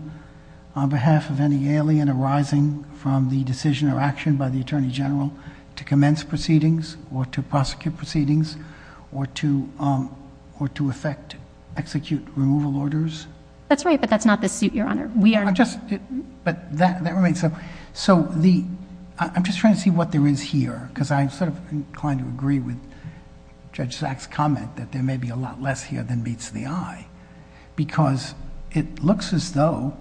on behalf of any alien arising from the decision or action by the Attorney General to commence proceedings or to prosecute proceedings or to effect, execute removal orders? That's right, but that's not the suit, Your Honor. I'm just trying to see what there is here because I'm inclined to agree with Judge Zack's comment that there may be a lot less here than meets the eye because it looks as though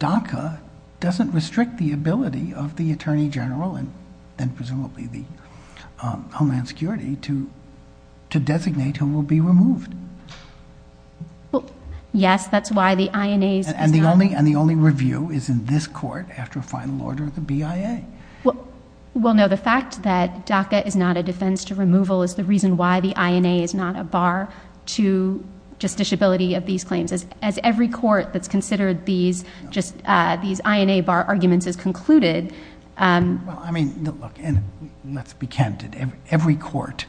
DACA doesn't restrict the ability of the Attorney General and presumably the Homeland Security to designate who will be removed. Yes, that's why the INA... And the only review is in this court after a final order of the BIA. Well, no, the fact that DACA is not a defense to removal is the reason why the INA is not a bar to justiciability of these claims. As every court that's considered these INA bar arguments is concluded... I mean, look, let's be candid. Every court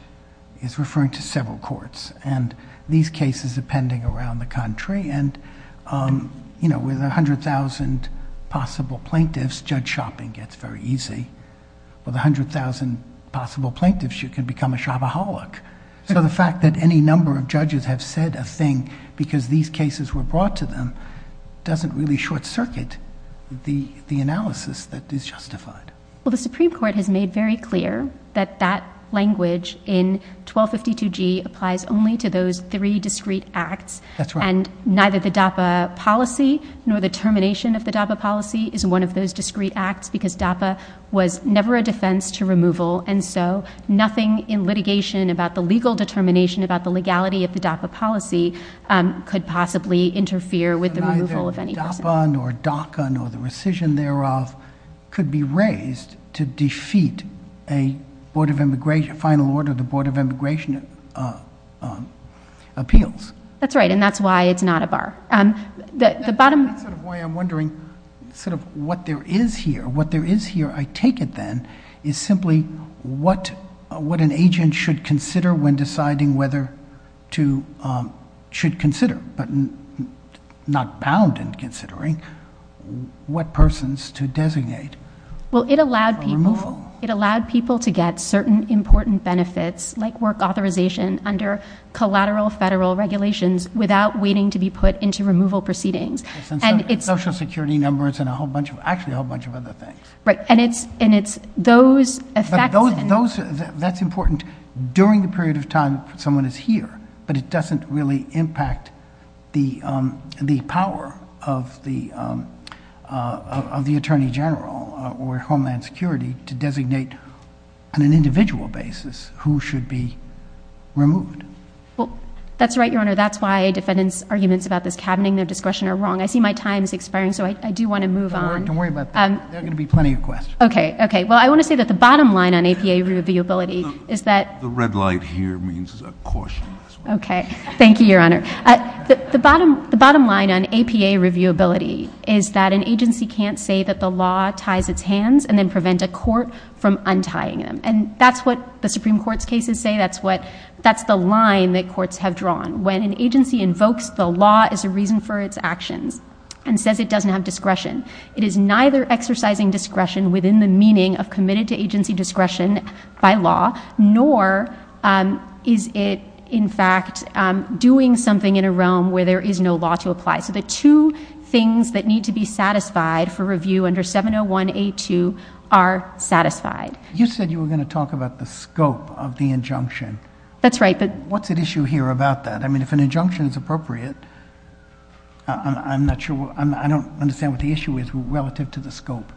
is referring to several courts and these cases are pending around the country and, you know, with 100,000 possible plaintiffs, judge shopping gets very easy. With 100,000 possible plaintiffs, you can become a shabbaholic. So the fact that any number of judges have said a thing because these cases were brought to them doesn't really short-circuit the analysis that is justified. Well, the Supreme Court has made very clear that that language in 1252G applies only to those three discrete acts. That's right. And neither the DAPA policy nor the termination of the DAPA policy is one of those discrete acts because DAPA was never a defense to removal and so nothing in litigation about the legal determination about the legality of the DAPA policy could possibly interfere with the removal of any person. Neither DAPA nor DACA nor the rescission thereof could be raised to defeat a final order of the Board of Immigration Appeals. That's right, and that's why it's not a bar. That's why I'm wondering sort of what there is here. What there is here, I take it then, is simply what an agent should consider when deciding whether to... should consider, but not bound in considering, what persons to designate for removal. Well, it allowed people to get certain important benefits like work authorization under collateral federal regulations without waiting to be put into removal proceedings. Social Security numbers and a whole bunch of... actually a whole bunch of other things. Right, and it's those... That's important during the period of time someone is here, but it doesn't really impact the power of the Attorney General or Homeland Security to designate on an individual basis who should be removed. Well, that's right, Your Honor. That's why defendants' arguments about this cabinet and their discretion are wrong. I see my time is expiring, so I do want to move on. Don't worry about that. There are going to be plenty of questions. Okay, okay. Well, I want to say that the bottom line on APA reviewability is that... The red light here means caution. Okay, thank you, Your Honor. The bottom line on APA reviewability is that an agency can't say that the law ties its hands and then prevent a court from untying them. And that's what the Supreme Court's cases say. That's the line that courts have drawn. When an agency invokes the law as a reason for its action and says it doesn't have discretion, it is neither exercising discretion within the meaning of committed to agency discretion by law nor is it, in fact, doing something in a realm where there is no law to apply. So the two things that need to be satisfied for review under 701A2 are satisfied. You said you were going to talk about the scope of the injunction. That's right, but... What's at issue here about that? I mean, if an injunction is appropriate, I'm not sure... I don't understand what the issue is relative to the scope.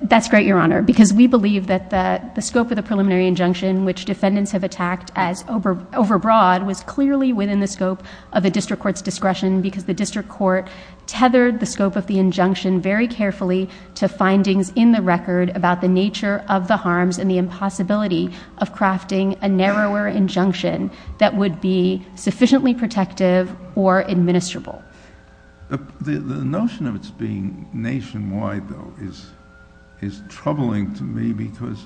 That's great, Your Honor, because we believe that the scope of the preliminary injunction which defendants have attacked as overbroad was clearly within the scope of a district court's discretion because the district court tethered the scope of the injunction very carefully to findings in the record about the nature of the harms and the impossibility of crafting a narrower injunction that would be sufficiently protective or administrable. The notion of it being nationwide, though, is troubling to me because...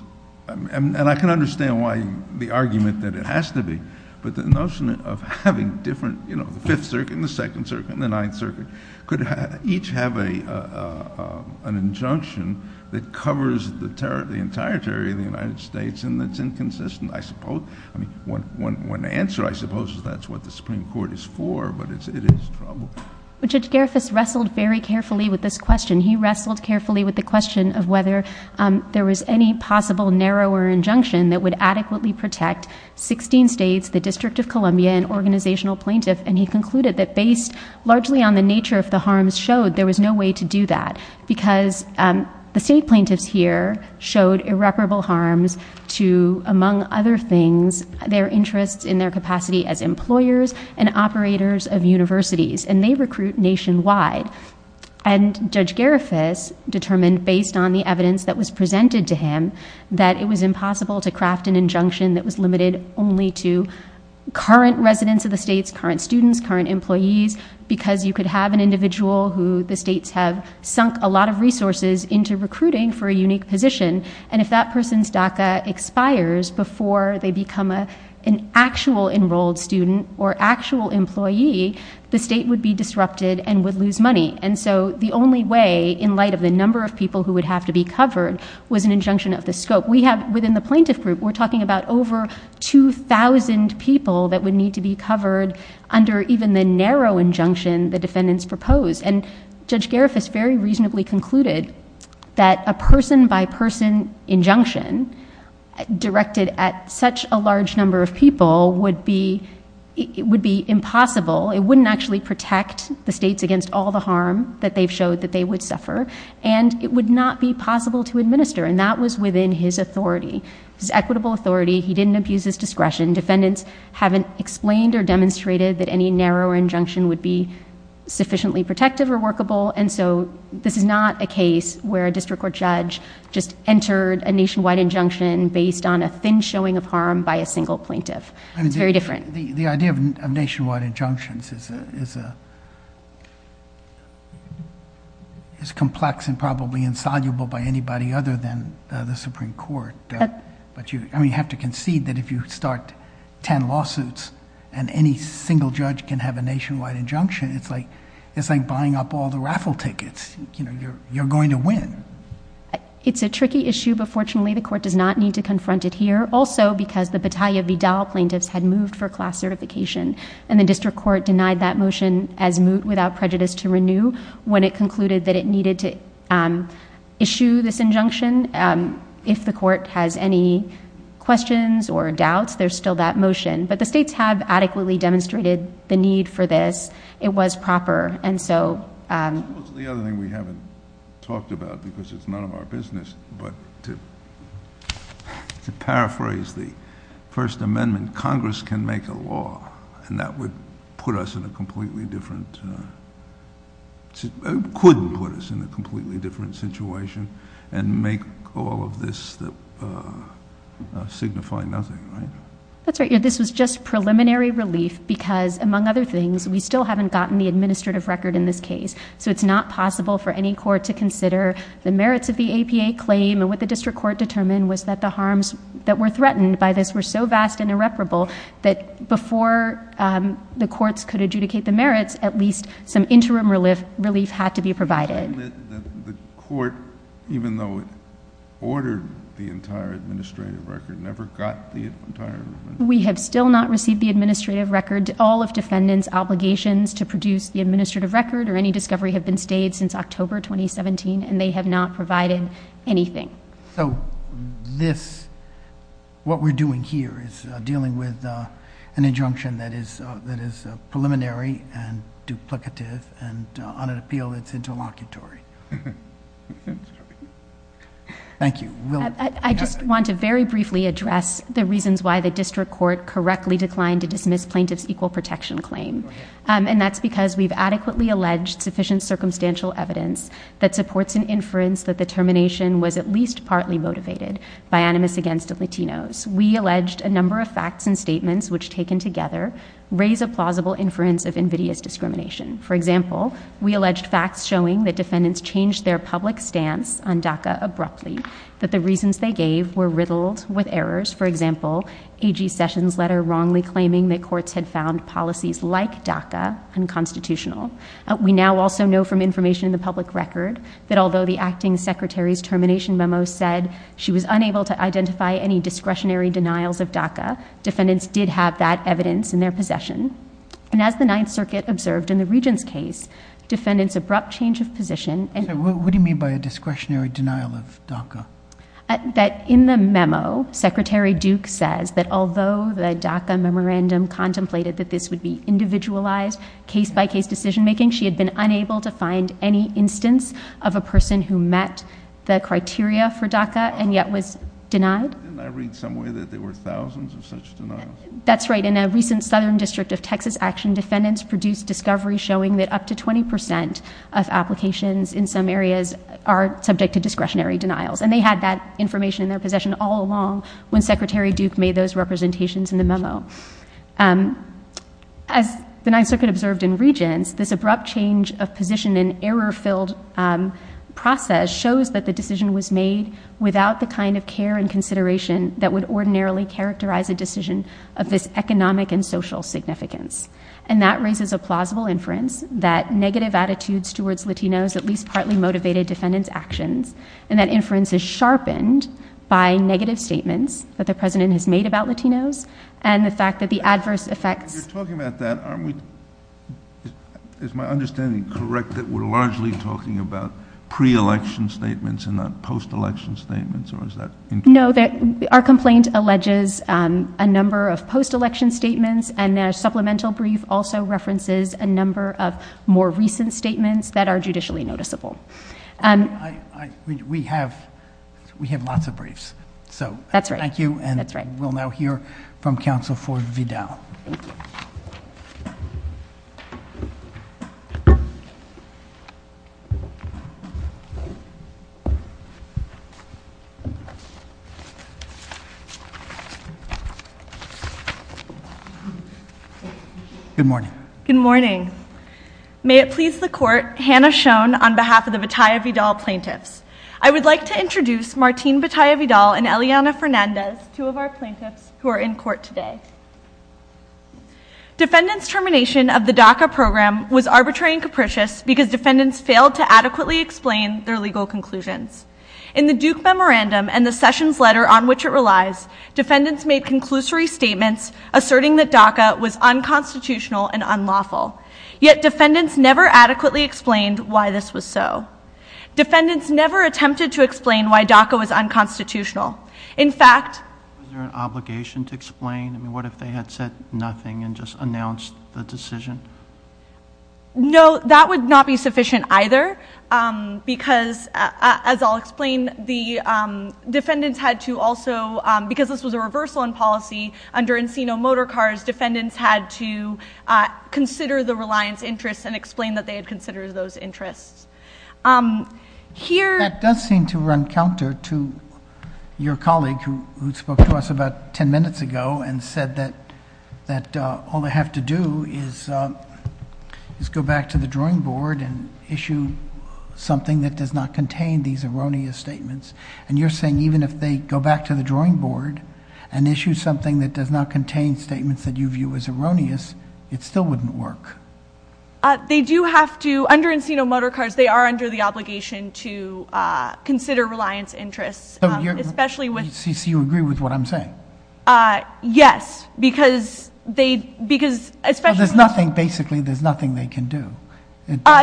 And I can understand why the argument that it has to be, but the notion of having different... You know, the Fifth Circuit and the Second Circuit and the Ninth Circuit could each have an injunction that covers the entire territory of the United States and that's inconsistent, I suppose. I mean, one answer, I suppose, is that's what the Supreme Court is for, but it is troubling. Judge Gerefis wrestled very carefully with this question. He wrestled carefully with the question of whether there was any possible narrower injunction that would adequately protect 16 states, the District of Columbia, and organizational plaintiffs, and he concluded that based largely on the nature of the harms showed, there was no way to do that because the state plaintiffs here showed irreparable harms to, among other things, their interests in their capacity as employers and operators of universities, and they recruit nationwide. And Judge Gerefis determined, based on the evidence that was presented to him, that it was impossible to craft an injunction that was limited only to current residents of the states, current students, current employees, because you could have an individual who the states have sunk a lot of resources into recruiting for a unique position, and if that person's DACA expires before they become an actual enrolled student or actual employee, the state would be disrupted and would lose money. And so the only way, in light of the number of people who would have to be covered, was an injunction of this scope. Within the plaintiff group, we're talking about over 2,000 people that would need to be covered under even the narrow injunction the defendants proposed, and Judge Gerefis very reasonably concluded that a person-by-person injunction directed at such a large number of people would be impossible. It wouldn't actually protect the states against all the harm that they've showed that they would suffer, and it would not be possible to administer, and that was within his authority, his equitable authority. He didn't abuse his discretion. Defendants haven't explained or demonstrated that any narrow injunction would be sufficiently protective or workable, and so this is not a case where a district court judge just entered a nationwide injunction based on a thin showing of harm by a single plaintiff. It's very different. The idea of nationwide injunctions is complex and probably insoluble by anybody other than the Supreme Court. I mean, you have to conceive that if you start ten lawsuits and any single judge can have a nationwide injunction, it's like buying up all the raffle tickets. You know, you're going to win. It's a tricky issue, but fortunately, the court does not need to confront it here, also because the Battaglia Vigal plaintiffs had moved for class certification, and the district court denied that motion as moot without prejudice to renew when it concluded that it needed to issue this injunction. If the court has any questions or doubts, there's still that motion, but the states have adequately demonstrated the need for this. It was proper, and so... What's the other thing we haven't talked about because it's none of our business, but to paraphrase the First Amendment, Congress can make a law, and that would put us in a completely different... could put us in a completely different situation and make all of this signify nothing, right? That's right. This is just preliminary relief because, among other things, we still haven't gotten the administrative record in this case, so it's not possible for any court to consider the merits of the APA claim, and what the district court determined was that the harms that were threatened by this were so vast and irreparable that before the courts could adjudicate the merits, at least some interim relief had to be provided. The court, even though it ordered the entire administrative record, never got the entire record. We have still not received the administrative record. All of defendants' obligations to produce the administrative record or any discovery have been stayed since October 2017, and they have not provided anything. So this... What we're doing here is dealing with an injunction that is preliminary and duplicative and, on an appeal, it's interlocutory. Thank you. I just want to very briefly address the reasons why the district court correctly declined to dismiss plaintiff's equal protection claim, and that's because we've adequately alleged sufficient circumstantial evidence that supports an inference that the termination was at least partly motivated by animus against the Latinos. We alleged a number of facts and statements which, taken together, raise a plausible inference of invidious discrimination. For example, we alleged facts showing that defendants changed their public stance on DACA abruptly, that the reasons they gave were riddled with errors, for example, A.G. Sessions' letter wrongly claiming that courts had found policies like DACA unconstitutional. We now also know from information in the public record that although the acting secretary's termination memo said she was unable to identify any discretionary denials of DACA, defendants did have that evidence in their possession. And as the Ninth Circuit observed in the regent's case, defendants' abrupt change of position... What do you mean by a discretionary denial of DACA? That in the memo, Secretary Duke says that although the DACA memorandum contemplated that this would be individualized case-by-case decision-making, she had been unable to find any instance of a person who met the criteria for DACA and yet was denied. Didn't I read somewhere that there were thousands of such denials? That's right. In a recent Southern District of Texas action, defendants produced discoveries showing that up to 20% of applications in some areas are subject to discretionary denials. And they had that information in their possession all along when Secretary Duke made those representations in the memo. As the Ninth Circuit observed in regents, this abrupt change of position in error-filled process shows that the decision was made without the kind of care and consideration that would ordinarily characterize a decision of this economic and social significance. And that raises a plausible inference that negative attitudes towards Latinos at least partly motivated defendants' actions, and that inference is sharpened by negative statements that the president has made about Latinos and the fact that the adverse effects... You're talking about that. Is my understanding correct that we're largely talking about pre-election statements and not post-election statements? No, our complaint alleges a number of post-election statements and their supplemental brief also references a number of more recent statements that are judicially noticeable. We have lots of briefs. That's right. Thank you, and we'll now hear from Counsel Ford Vidal. Good morning. Good morning. May it please the Court, Hannah Schoen on behalf of the Bataya Vidal plaintiffs. I would like to introduce Martine Bataya Vidal and Eliana Fernandez, two of our plaintiffs who are in court today. Defendants' termination of the DACA program was arbitrary and capricious because defendants failed to adequately explain their legal conclusions. In the Duke Memorandum and the Sessions Letter on which it relies, defendants made conclusory statements asserting that DACA was unconstitutional and unlawful. Yet defendants never adequately explained why this was so. Defendants never attempted to explain why DACA was unconstitutional. In fact... Is there an obligation to explain? What if they had said nothing and just announced the decision? No, that would not be sufficient either because, as I'll explain, the defendants had to also, because this was a reversal in policy under Encino Motor Cars, defendants had to consider the reliance interests and explain that they had considered those interests. Here... That does seem to run counter to your colleague who spoke to us about ten minutes ago and said that all they have to do is go back to the drawing board and issue something that does not contain these erroneous statements. And you're saying even if they go back to the drawing board and issue something that does not contain statements that you view as erroneous, it still wouldn't work. They do have to, under Encino Motor Cars, they are under the obligation to consider reliance interests, especially with... So you agree with what I'm saying? Yes, because they, because... Because there's nothing, basically, there's nothing they can do.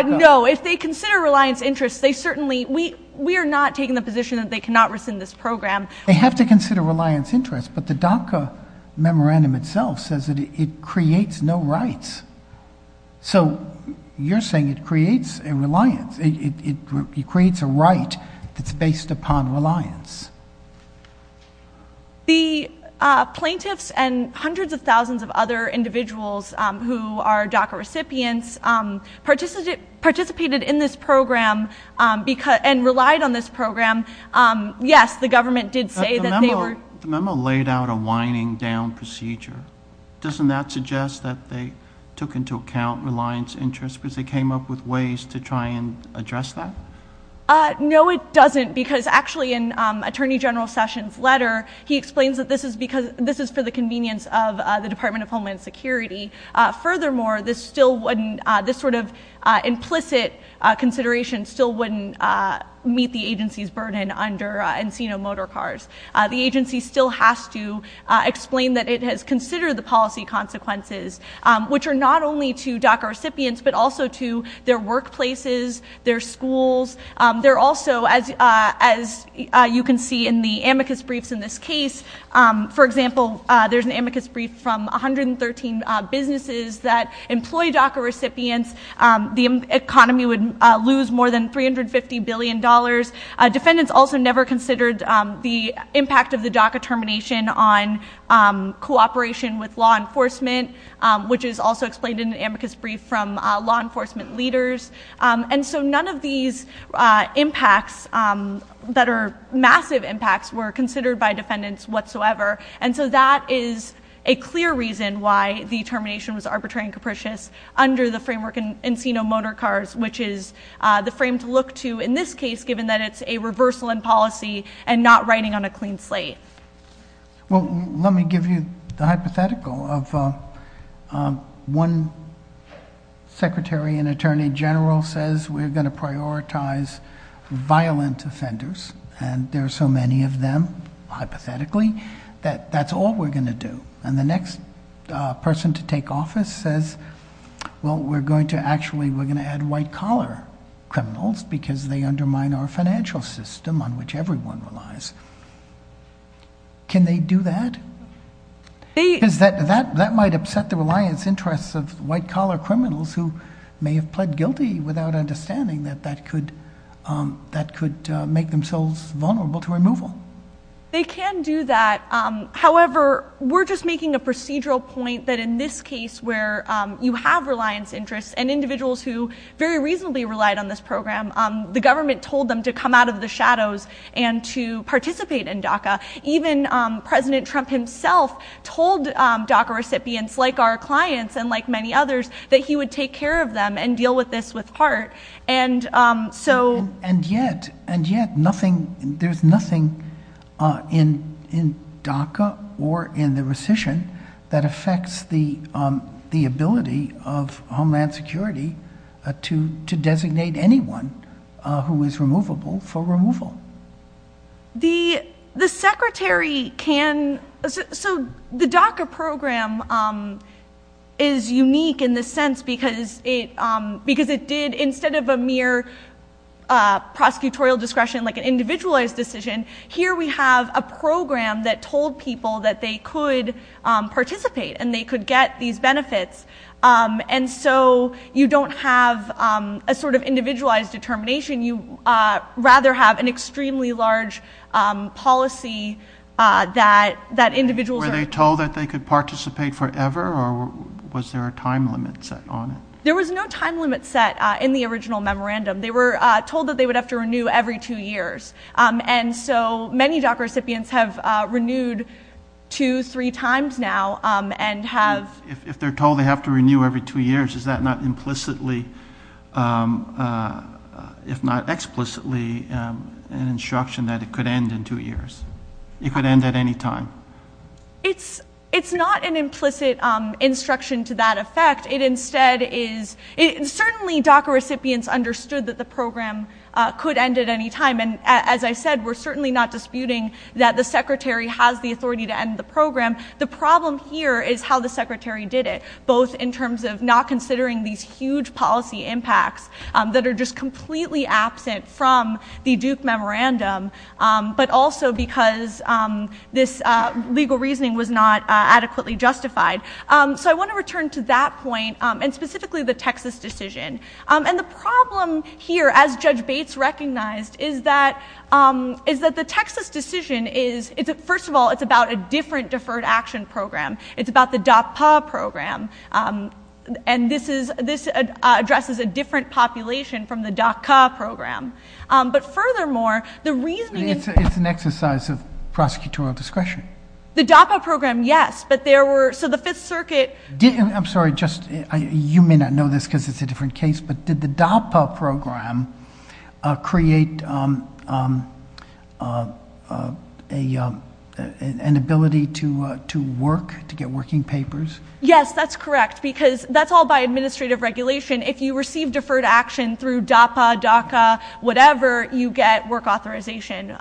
No, if they consider reliance interests, they certainly... We are not taking the position that they cannot rescind this program. They have to consider reliance interests, but the DACA memorandum itself says that it creates no rights. So you're saying it creates a reliance, it creates a right that's based upon reliance. The plaintiffs and hundreds of thousands of other individuals who are DACA recipients participated in this program and relied on this program. Yes, the government did say that they were... But the memo laid out a winding down procedure. Doesn't that suggest that they took into account reliance interests because they came up with ways to try and address that? No, it doesn't, because actually in Attorney General Sessions' letter, he explains that this is for the convenience of the Department of Homeland Security. Furthermore, this sort of implicit consideration still wouldn't meet the agency's burden under Encino Motorcars. The agency still has to explain that it has considered the policy consequences, which are not only to DACA recipients, but also to their workplaces, their schools. They're also, as you can see in the amicus briefs in this case, for example, there's an amicus brief from 113 businesses that employ DACA recipients. The economy would lose more than $350 billion. Defendants also never considered the impact of the DACA termination on cooperation with law enforcement, which is also explained in the amicus brief from law enforcement leaders. And so none of these impacts that are massive impacts were considered by defendants whatsoever. And so that is a clear reason why the termination was arbitrary and capricious under the framework Encino Motorcars, which is the frame to look to in this case, given that it's a reversal in policy and not writing on a clean slate. Well, let me give you the hypothetical of one secretary and attorney general says we're going to prioritize violent offenders, and there are so many of them, hypothetically, that that's all we're going to do. And the next person to take office says, well, we're going to actually add white-collar criminals because they undermine our financial system on which everyone relies. Can they do that? That might upset the reliance interests of white-collar criminals who may have pled guilty without understanding that that could make themselves vulnerable to removal. They can do that. However, we're just making a procedural point that in this case where you have reliance interests and individuals who very reasonably relied on this program, the government told them to come out of the shadows and to participate in DACA. Even President Trump himself told DACA recipients, like our clients and like many others, that he would take care of them and deal with this with heart. And yet, there's nothing in DACA or in the rescission that affects the ability of Homeland Security to designate anyone who is removable for removal. The DACA program is unique in this sense because it did, instead of a mere prosecutorial discretion, like an individualized decision, here we have a program that told people that they could participate and they could get these benefits. And so you don't have a sort of individualized determination. You rather have an extremely large policy that individuals... Were they told that they could participate forever or was there a time limit set on it? There was no time limit set in the original memorandum. They were told that they would have to renew every two years. And so many DACA recipients have renewed two, three times now and have... If they're told they have to renew every two years, is that not implicitly, if not explicitly, an instruction that it could end in two years? It could end at any time? It's not an implicit instruction to that effect. It instead is... Certainly DACA recipients understood that the program could end at any time. And as I said, we're certainly not disputing that the Secretary has the authority to end the program. The problem here is how the Secretary did it, both in terms of not considering these huge policy impacts that are just completely absent from the Duke Memorandum, but also because this legal reasoning was not adequately justified. So I want to return to that point and specifically the Texas decision. And the problem here, as Judge Bates recognized, is that the Texas decision is... First of all, it's about a different Deferred Action Program. It's about the DACA program. And this addresses a different population from the DACA program. But furthermore, the reasoning... It's an exercise of prosecutorial discretion. The DACA program, yes, but there were... So the Fifth Circuit... I'm sorry, you may not know this because it's a different case, but did the DACA program create an ability to work, to get working papers? Yes, that's correct, because that's all by administrative regulation. If you receive deferred action through DAPA, DACA, whatever, you get work authorization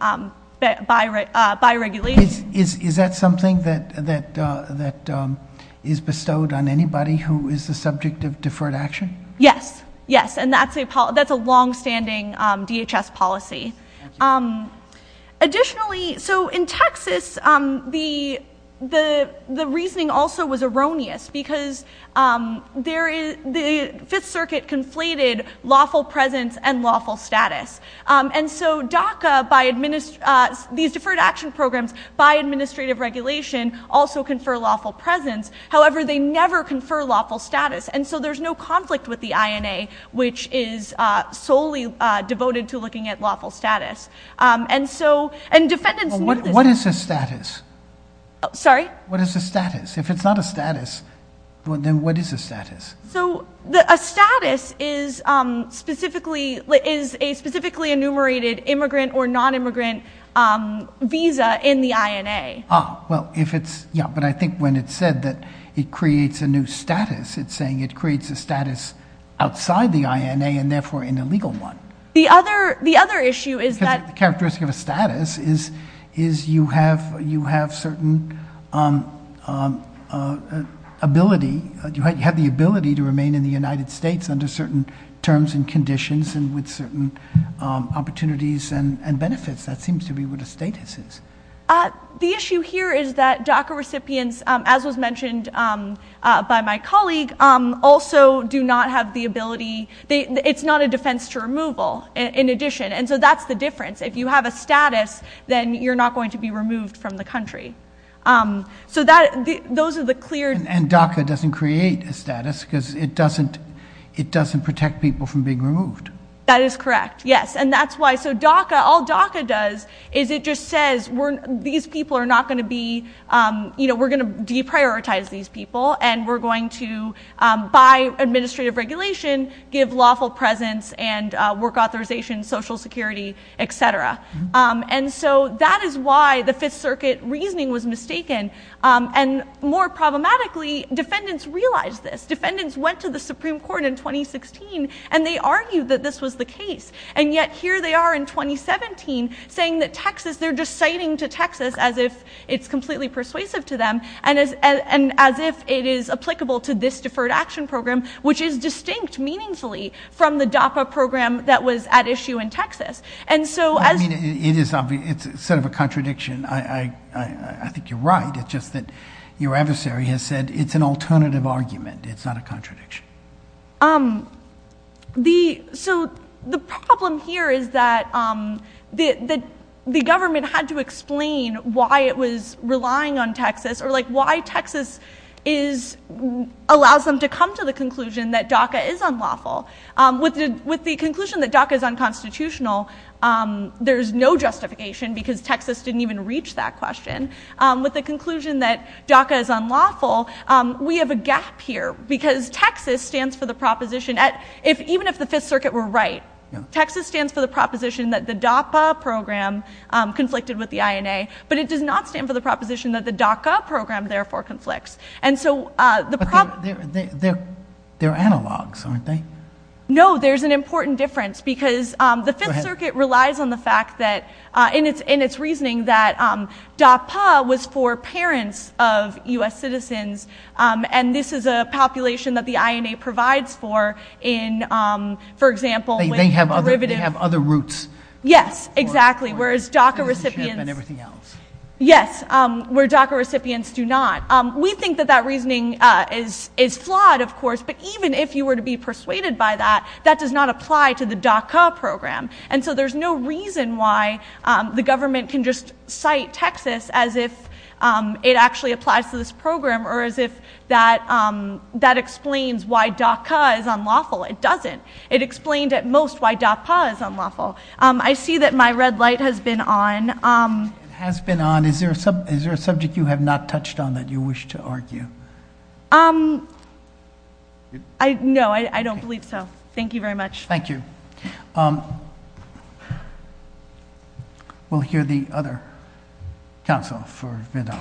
by regulation. Is that something that is bestowed on anybody who is the subject of deferred action? Yes, yes, and that's a longstanding DHS policy. Additionally, so in Texas, the reasoning also was erroneous because the Fifth Circuit conflated lawful presence and lawful status. And so DACA, these Deferred Action Programs, by administrative regulation, also confer lawful presence. However, they never confer lawful status. And so there's no conflict with the INA, which is solely devoted to looking at lawful status. And so... What is the status? Sorry? What is the status? If it's not a status, then what is a status? So a status is a specifically enumerated immigrant or nonimmigrant visa in the INA. Ah, well, if it's... Yeah, but I think when it's said that it creates a new status, it's saying it creates a status outside the INA and therefore an illegal one. The other issue is that... ability. Do you have the ability to remain in the United States under certain terms and conditions and with certain opportunities and benefits? That seems to be what a status is. The issue here is that DACA recipients, as was mentioned by my colleague, also do not have the ability... It's not a defense to removal, in addition. And so that's the difference. If you have a status, then you're not going to be removed from the country. So those are the clear... And DACA doesn't create a status because it doesn't protect people from being removed. That is correct, yes. And that's why... So DACA, all DACA does is it just says, these people are not going to be... You know, we're going to deprioritize these people and we're going to, by administrative regulation, give lawful presence and work authorization, social security, etc. And so that is why the Fifth Circuit reasoning was mistaken. And more problematically, defendants realized this. Defendants went to the Supreme Court in 2016 and they argued that this was the case. And yet here they are in 2017 saying that Texas... They're just citing to Texas as if it's completely persuasive to them and as if it is applicable to this Deferred Action Program, which is distinct, meaningfully, from the DAPA program that was at issue in Texas. It's sort of a contradiction. I think you're right. It's just that your adversary has said it's an alternative argument, it's not a contradiction. So the problem here is that the government had to explain why it was relying on Texas or why Texas allows them to come to the conclusion that DACA is unlawful. With the conclusion that DACA is unconstitutional, there's no justification because Texas didn't even reach that question. With the conclusion that DACA is unlawful, we have a gap here because Texas stands for the proposition... Even if the Fifth Circuit were right, Texas stands for the proposition that the DAPA program conflicted with the INA, but it does not stand for the proposition that the DACA program, therefore, conflicts. They're analogs, aren't they? No, there's an important difference because the Fifth Circuit relies on the fact that, in its reasoning, that DAPA was for parents of U.S. citizens and this is a population that the INA provides for, for example... They have other roots. Yes, exactly, whereas DACA recipients... Yes, where DACA recipients do not. We think that that reasoning is flawed, of course, but even if you were to be persuaded by that, that does not apply to the DACA program. And so there's no reason why the government can just cite Texas as if it actually applies to this program or as if that explains why DACA is unlawful. It doesn't. It explains, at most, why DACA is unlawful. I see that my red light has been on. It has been on. Is there a subject you have not touched on that you wish to argue? No, I don't believe so. Thank you very much. Thank you. We'll hear the other counsel for the day.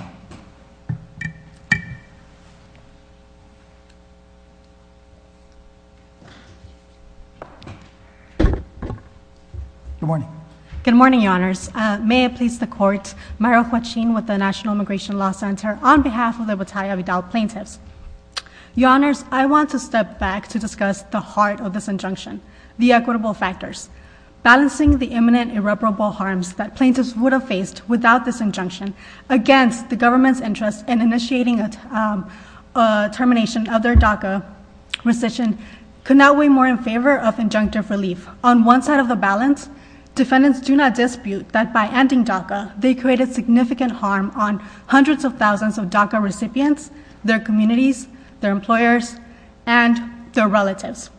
Good morning. Good morning, Your Honors. May I please the court, Maira Kwachin with the National Immigration Law Center, on behalf of the Battalion of Adult Plaintiffs. Your Honors, I want to step back to discuss the heart of this injunction, the equitable factors. Balancing the imminent irreparable harms that plaintiffs would have faced without this injunction against the government's interest in initiating the termination of their DACA rescission could not weigh more in favor of injunctive relief. On one side of the balance, defendants do not dispute that by ending DACA, they created significant harm on hundreds of thousands of DACA recipients, their communities, their employers, and their relatives.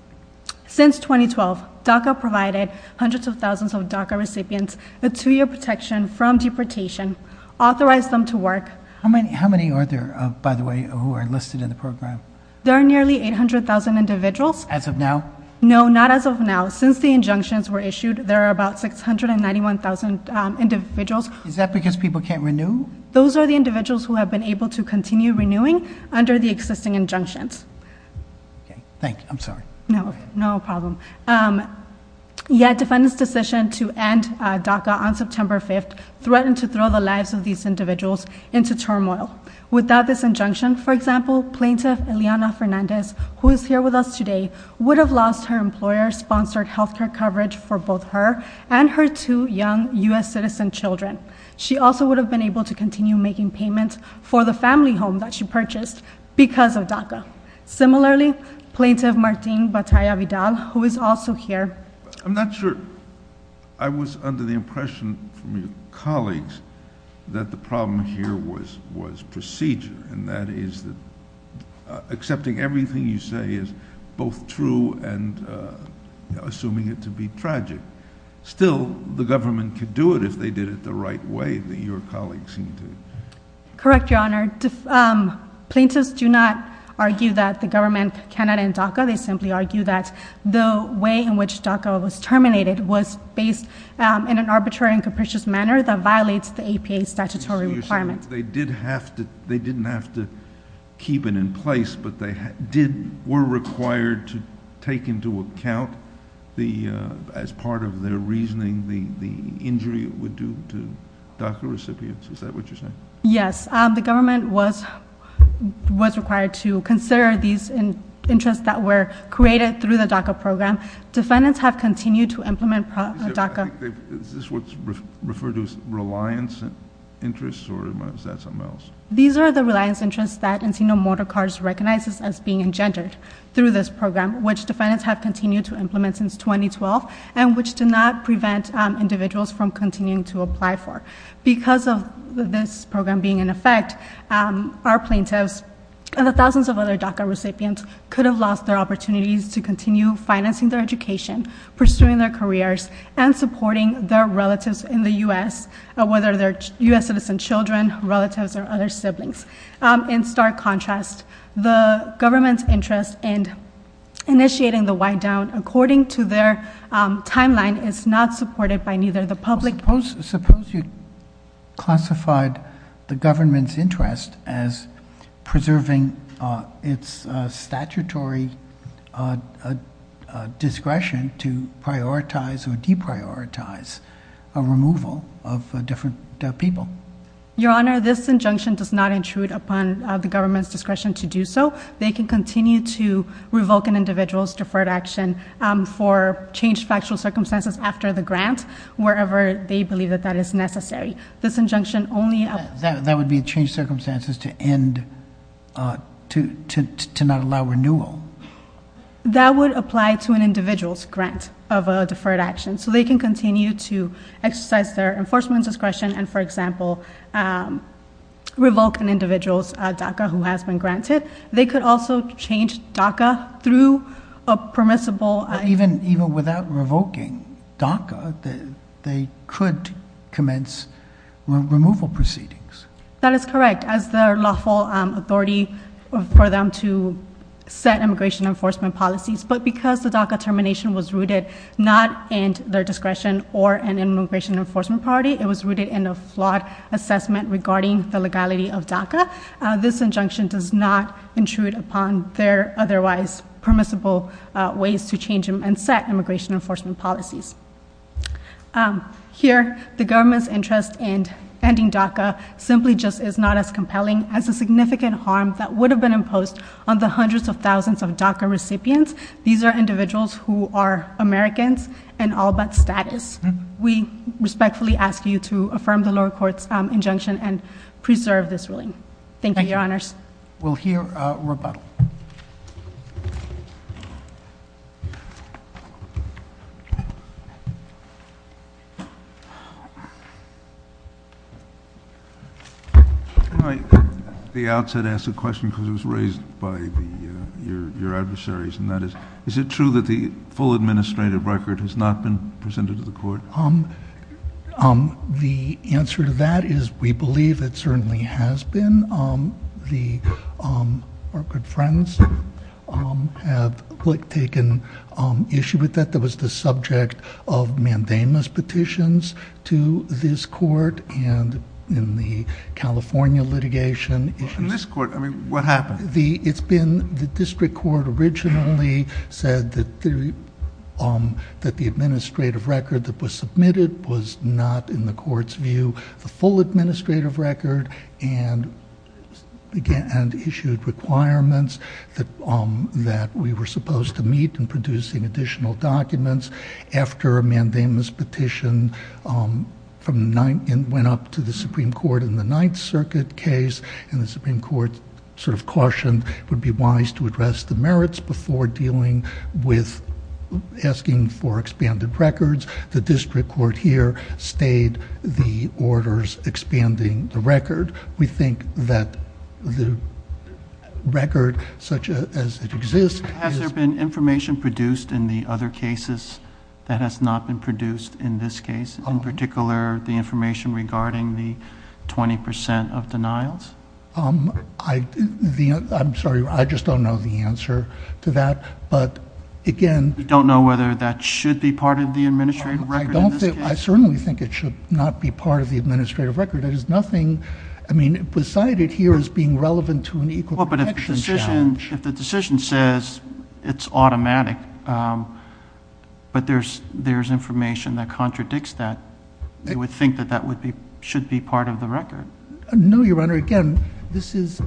Since 2012, DACA provided hundreds of thousands of DACA recipients a two-year protection from deportation, authorized them to work. How many are there, by the way, who are enlisted in the program? There are nearly 800,000 individuals. As of now? No, not as of now. Since the injunctions were issued, there are about 691,000 individuals. Is that because people can't renew? Those are the individuals who have been able to continue renewing under the existing injunctions. Thank you. I'm sorry. No problem. Yet defendants' decision to end DACA on September 5th threatened to throw the lives of these individuals into turmoil. Without these injunctions, for example, plaintiff Eliana Fernandez, who is here with us today, would have lost her employer-sponsored health care coverage for both her and her two young U.S. citizen children. She also would have been able to continue making payments for the family home that she purchased because of DACA. Similarly, plaintiff Martín Batalla Vidal, who is also here... I'm not sure... I was under the impression from your colleagues that the problem here was procedure, and that is that accepting everything you say is both true and assuming it to be tragic. Still, the government could do it if they did it the right way, that your colleagues seem to... Correct, Your Honor. Plaintiffs do not argue that the government cannot end DACA. They simply argue that the way in which DACA was terminated was based in an arbitrary and capricious manner that violates the APA's statutory requirements. They did have to... They didn't have to keep it in place, but they did... were required to take into account as part of their reasoning the injury it would do to DACA recipients. Is that what you're saying? Yes. The government was required to consider these interests that were created through the DACA program. Defendants have continued to implement DACA... Is this what's referred to as reliance interests, or is that something else? These are the reliance interests that Encino Motorcars recognizes as being engendered through this program, which defendants have continued to implement since 2012, and which do not prevent individuals from continuing to apply for. Because of this program being in effect, our plaintiffs and the thousands of other DACA recipients could have lost their opportunities to continue financing their education, pursuing their careers, and supporting their relatives in the U.S., whether they're U.S. citizen children, relatives, or other siblings. In stark contrast, the government's interest in initiating the whiteout according to their timeline is not supported by neither the public nor... Suppose you classified the government's interest as preserving its statutory discretion to prioritize or deprioritize a removal of different people. Your Honor, this injunction does not intrude upon the government's discretion to do so. They can continue to revoke an individual's deferred action for changed factual circumstances after the grant, wherever they believe that that is necessary. This injunction only... That would be changed circumstances to end... to not allow renewal. That would apply to an individual's grant of a deferred action. So they can continue to exercise their enforcement discretion and, for example, revoke an individual's DACA who has been granted. They could also change DACA through a permissible... Even without revoking DACA, they could commence removal proceedings. That is correct. As their lawful authority for them to set immigration enforcement policies. But because the DACA termination was rooted not in their discretion or an immigration enforcement priority, it was rooted in a flawed assessment regarding the legality of DACA, this injunction does not intrude upon their otherwise permissible ways to change and set immigration enforcement policies. Here, the government's interest in ending DACA simply just is not as compelling as the significant harm that would have been imposed on the hundreds of thousands of DACA recipients. These are individuals who are Americans and all but status. We respectfully ask you to affirm the lower court's injunction and preserve this ruling. Thank you, Your Honors. Thank you. We'll hear Rebecca. Can I, at the outset, ask a question because it was raised by your adversaries, and that is, is it true that the full administrative record has not been presented to the court? The answer to that is we believe it certainly has been. Our good friends have taken issue with that. That was the subject of mandamus petitions to this court and in the California litigation. In this court? I mean, what happened? It's been, the district court originally said that the administrative record that was submitted was not, in the court's view, the full administrative record and issued requirements that we were supposed to meet in producing additional documents. After a mandamus petition went up to the Supreme Court in the Ninth Circuit case, and the Supreme Court sort of cautioned it would be wise to address the merits before dealing with asking for expanded records, the district court here stayed the orders expanding the record. We think that the record such as it exists... Has there been information produced in the other cases that has not been produced in this case? In particular, the information regarding the 20% of denials? I'm sorry, I just don't know the answer. You don't know whether that should be part of the administrative record? I certainly think it should not be part of the administrative record. There's nothing, I mean, beside it here as being relevant to an equal protection statute. Well, but if the decision says it's automatic, but there's information that contradicts that, you would think that that should be part of the record. No, Your Honor, again, this is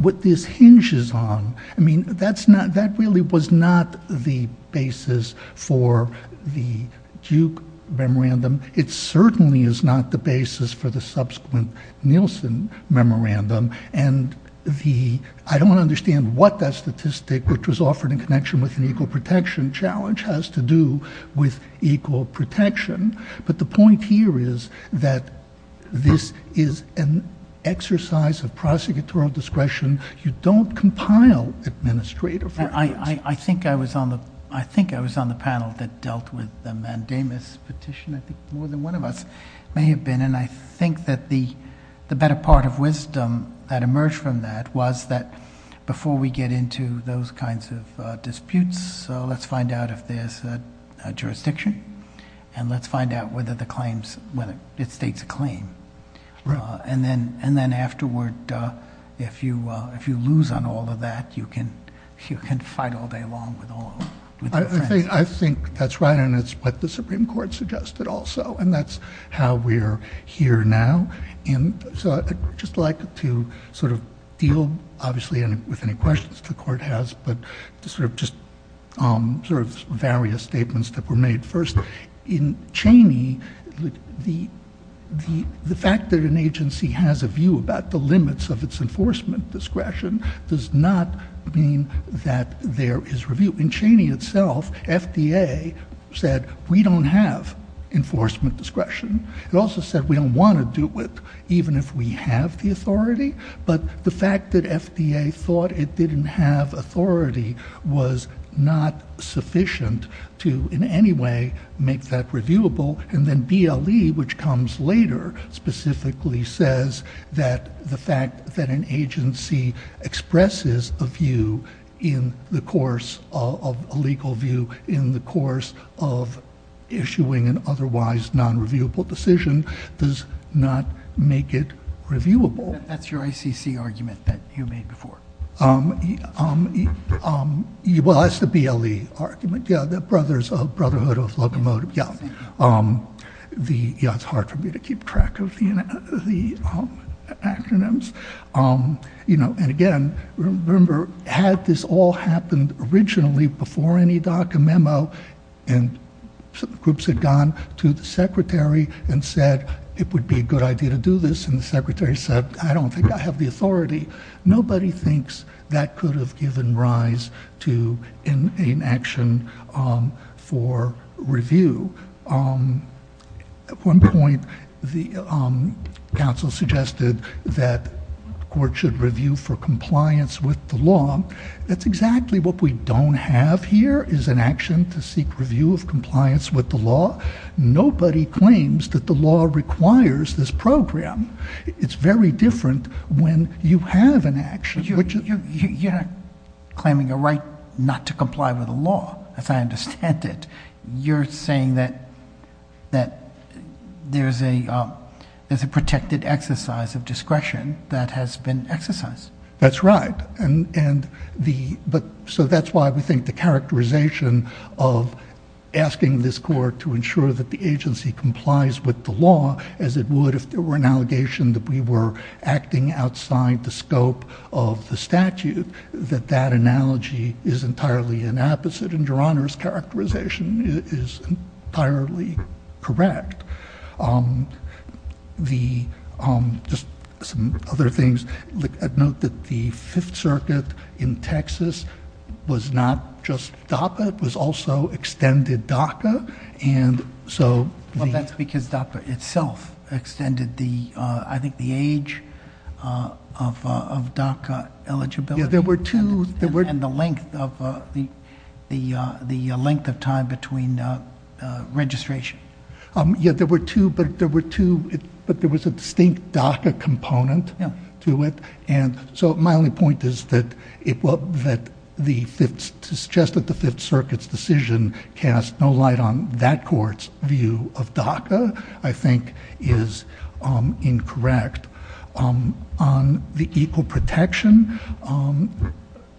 what this hinges on. I mean, that really was not the basis for the Duke memorandum. It certainly is not the basis for the subsequent Nielsen memorandum, and I don't understand what that statistic, which was offered in connection with an equal protection challenge, has to do with equal protection. But the point here is that this is an exercise of prosecutorial discretion. You don't compile administrative records. I think I was on the panel that dealt with the mandamus petition. I think more than one of us may have been, and I think that the better part of wisdom that emerged from that was that before we get into those kinds of disputes, let's find out if there's a jurisdiction, and let's find out whether the claims, whether it states a claim. And then afterward, if you lose on all of that, you can fight all day long with all of them. I think that's right, and it's what the Supreme Court suggested also, and that's how we're here now. And so I'd just like to sort of deal, obviously, with any questions the Court has, but to sort of just various statements that were made first. In Cheney, the fact that an agency has a view about the limits of its enforcement discretion does not mean that there is review. In Cheney itself, FDA said, we don't have enforcement discretion. It also said we don't want to do it, even if we have the authority, but the fact that FDA thought it didn't have authority was not sufficient to in any way make that reviewable, and then BLE, which comes later, specifically says that the fact that an agency expresses a view in the course of a legal view in the course of issuing an otherwise non-reviewable decision does not make it reviewable. That's your ICC argument that you made before. Well, that's the BLE argument, yeah, the Brothers of Brotherhood of Locomotive, yeah. It's hard for me to keep track of the acronyms. And again, remember, had this all happened originally before any DACA memo, and some groups had gone to the Secretary and said it would be a good idea to do this, and the Secretary said, I don't think I have the authority, nobody thinks that could have given rise to an action for review. At one point, the council suggested that the court should review for compliance with the law. That's exactly what we don't have here, is an action to seek review of compliance with the law. Nobody claims that the law requires this program. It's very different when you have an action. You're claiming a right not to comply with the law, if I understand it. You're saying that there's a protected exercise of discretion that has been exercised. That's right. So that's why we think the characterization of asking this court to ensure that the agency complies with the law, as it would if there were an allegation that we were acting outside the scope of the statute, that that analogy is entirely an opposite. And Your Honor's characterization is entirely correct. Just some other things. I'd note that the Fifth Circuit in Texas was not just DACA. It was also extended DACA. Well, that's because DACA itself extended, I think, the age of DACA eligibility. Yeah, there were two. And the length of time between registration. Yeah, but there was a distinct DACA component to it. And so my only point is that the Fifth Circuit's decision to cast no light on that court's view of DACA, I think, is incorrect. On the equal protection,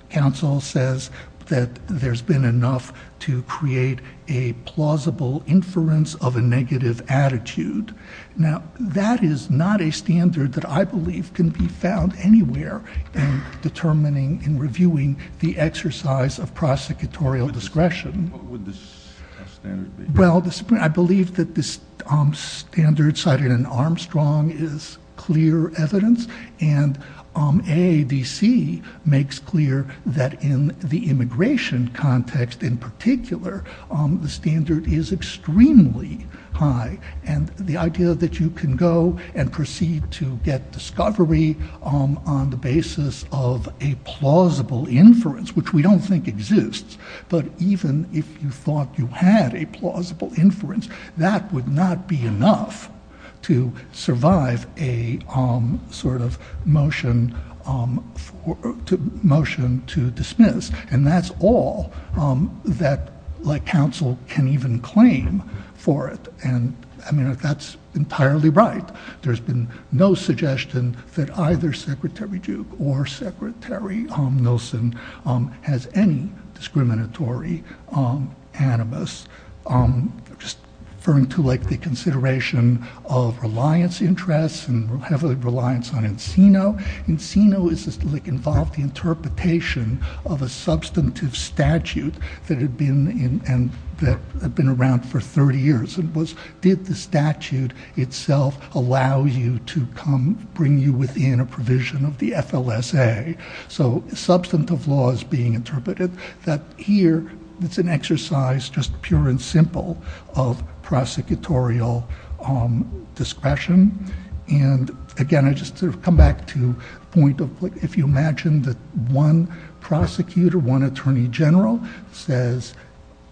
counsel says that there's been enough to create a plausible inference of a negative attitude. Now, that is not a standard that I believe can be found anywhere in determining and reviewing the exercise of prosecutorial discretion. What would the standard be? Well, I believe that the standard cited in Armstrong is clear evidence. And AADC makes clear that in the immigration context in particular, the standard is extremely high. And the idea that you can go and proceed to get discovery on the basis of a plausible inference, which we don't think exists, but even if you thought you had a plausible inference, that would not be enough to survive a motion to dismiss. And that's all that counsel can even claim for it. And I mean, that's entirely right. There's been no suggestion that either Secretary Duke or Secretary Nielsen has any discriminatory animus. Referring to the consideration of reliance interests and heavily reliance on Encino. Encino involves the interpretation of a substantive statute that had been around for 30 years. And it was, did the statute itself allow you to come bring you within a provision of the FLSA? So substantive law is being interpreted. But here, it's an exercise just pure and simple of prosecutorial discretion. And again, I just come back to the point of if you imagine that one prosecutor, one attorney general says,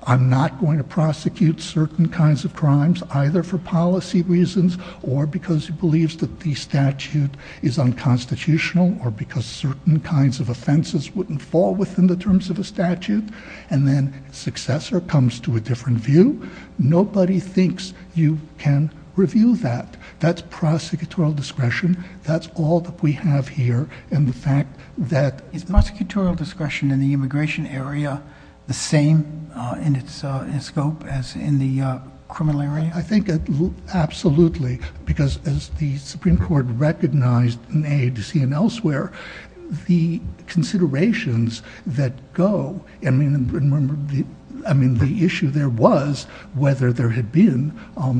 I'm not going to prosecute certain kinds of crimes, either for policy reasons, or because he believes that the statute is unconstitutional, or because certain kinds of offenses wouldn't fall within the terms of a statute, and then successor comes to a different view, nobody thinks you can review that. That's prosecutorial discretion. That's all that we have here. And the fact that it's prosecutorial discretion in the immigration area, the same in its scope as in the criminal area? I think absolutely. Because as the Supreme Court recognized in AADC and elsewhere, the considerations that go, I mean, the issue there was whether there had been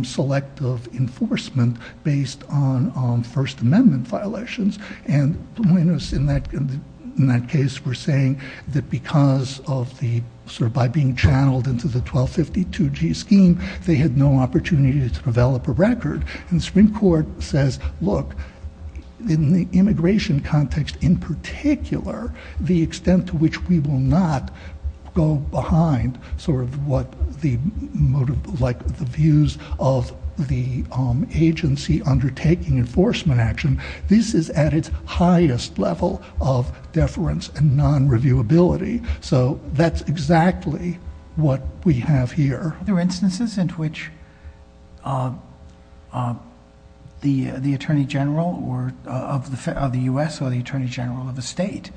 selective enforcement based on First Amendment violations. And when it's in that case, we're 1252G scheme, they had no opportunity to develop a record. And the Supreme Court says, look, in the immigration context in particular, the extent to which we will not go behind the views of the agency undertaking enforcement action, this is at its highest level of deference and non-reviewability. So that's exactly what we have here. Are there instances in which the Attorney General of the US or the Attorney General of the state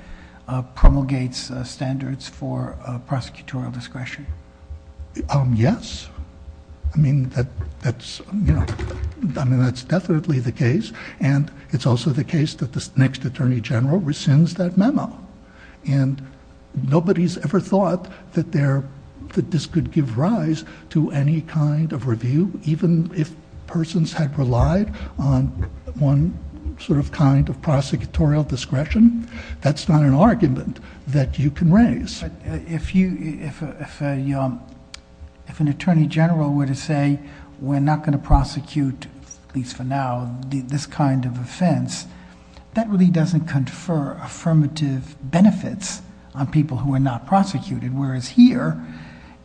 promulgates standards for prosecutorial discretion? Yes. I mean, that's definitely the case. And it's also the case that the next Attorney General rescinds that memo. And nobody's ever thought that this could give rise to any kind of review, even if persons had relied on one sort of kind of prosecutorial discretion. That's not an argument that you can raise. If an Attorney General were to say, we're not going to prosecute, at least for now, this kind of offense, that really doesn't confer affirmative benefits on people who are not prosecuting. Whereas here,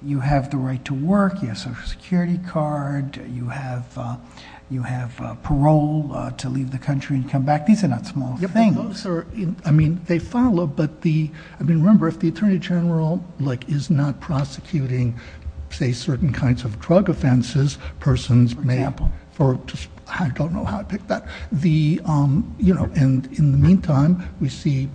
you have the right to work. You have a Social Security card. You have parole to leave the country and come back. These are not small things. Those are, I mean, they follow. But remember, if the Attorney General is not prosecuting, say, certain kinds of drug offenses, persons, for example, I don't know how to pick that. And in the meantime, we see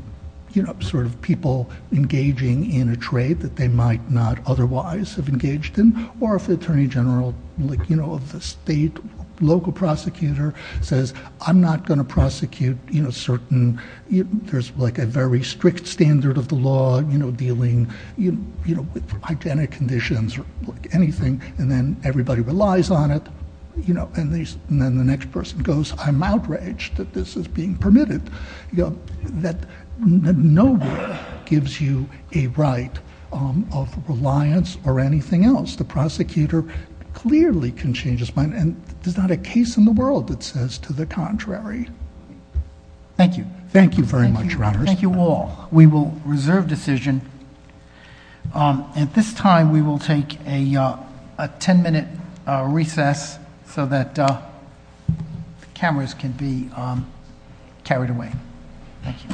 people engaging in a trade that they might not otherwise have engaged in. Or if the Attorney General of the state, local prosecutor, says, I'm not going to prosecute certain, there's a very strict standard of the law, dealing with hygienic conditions or anything. And then everybody relies on it. And then the next person goes, I'm outraged that this is being permitted. No one gives you a right of reliance or anything else. The prosecutor clearly can change his mind. And there's not a case in the world that says to the contrary. Thank you. Thank you very much, Your Honors. Thank you all. We will reserve decision. At this time, we will take a 10-minute recess so that cameras can be carried away. Thank you.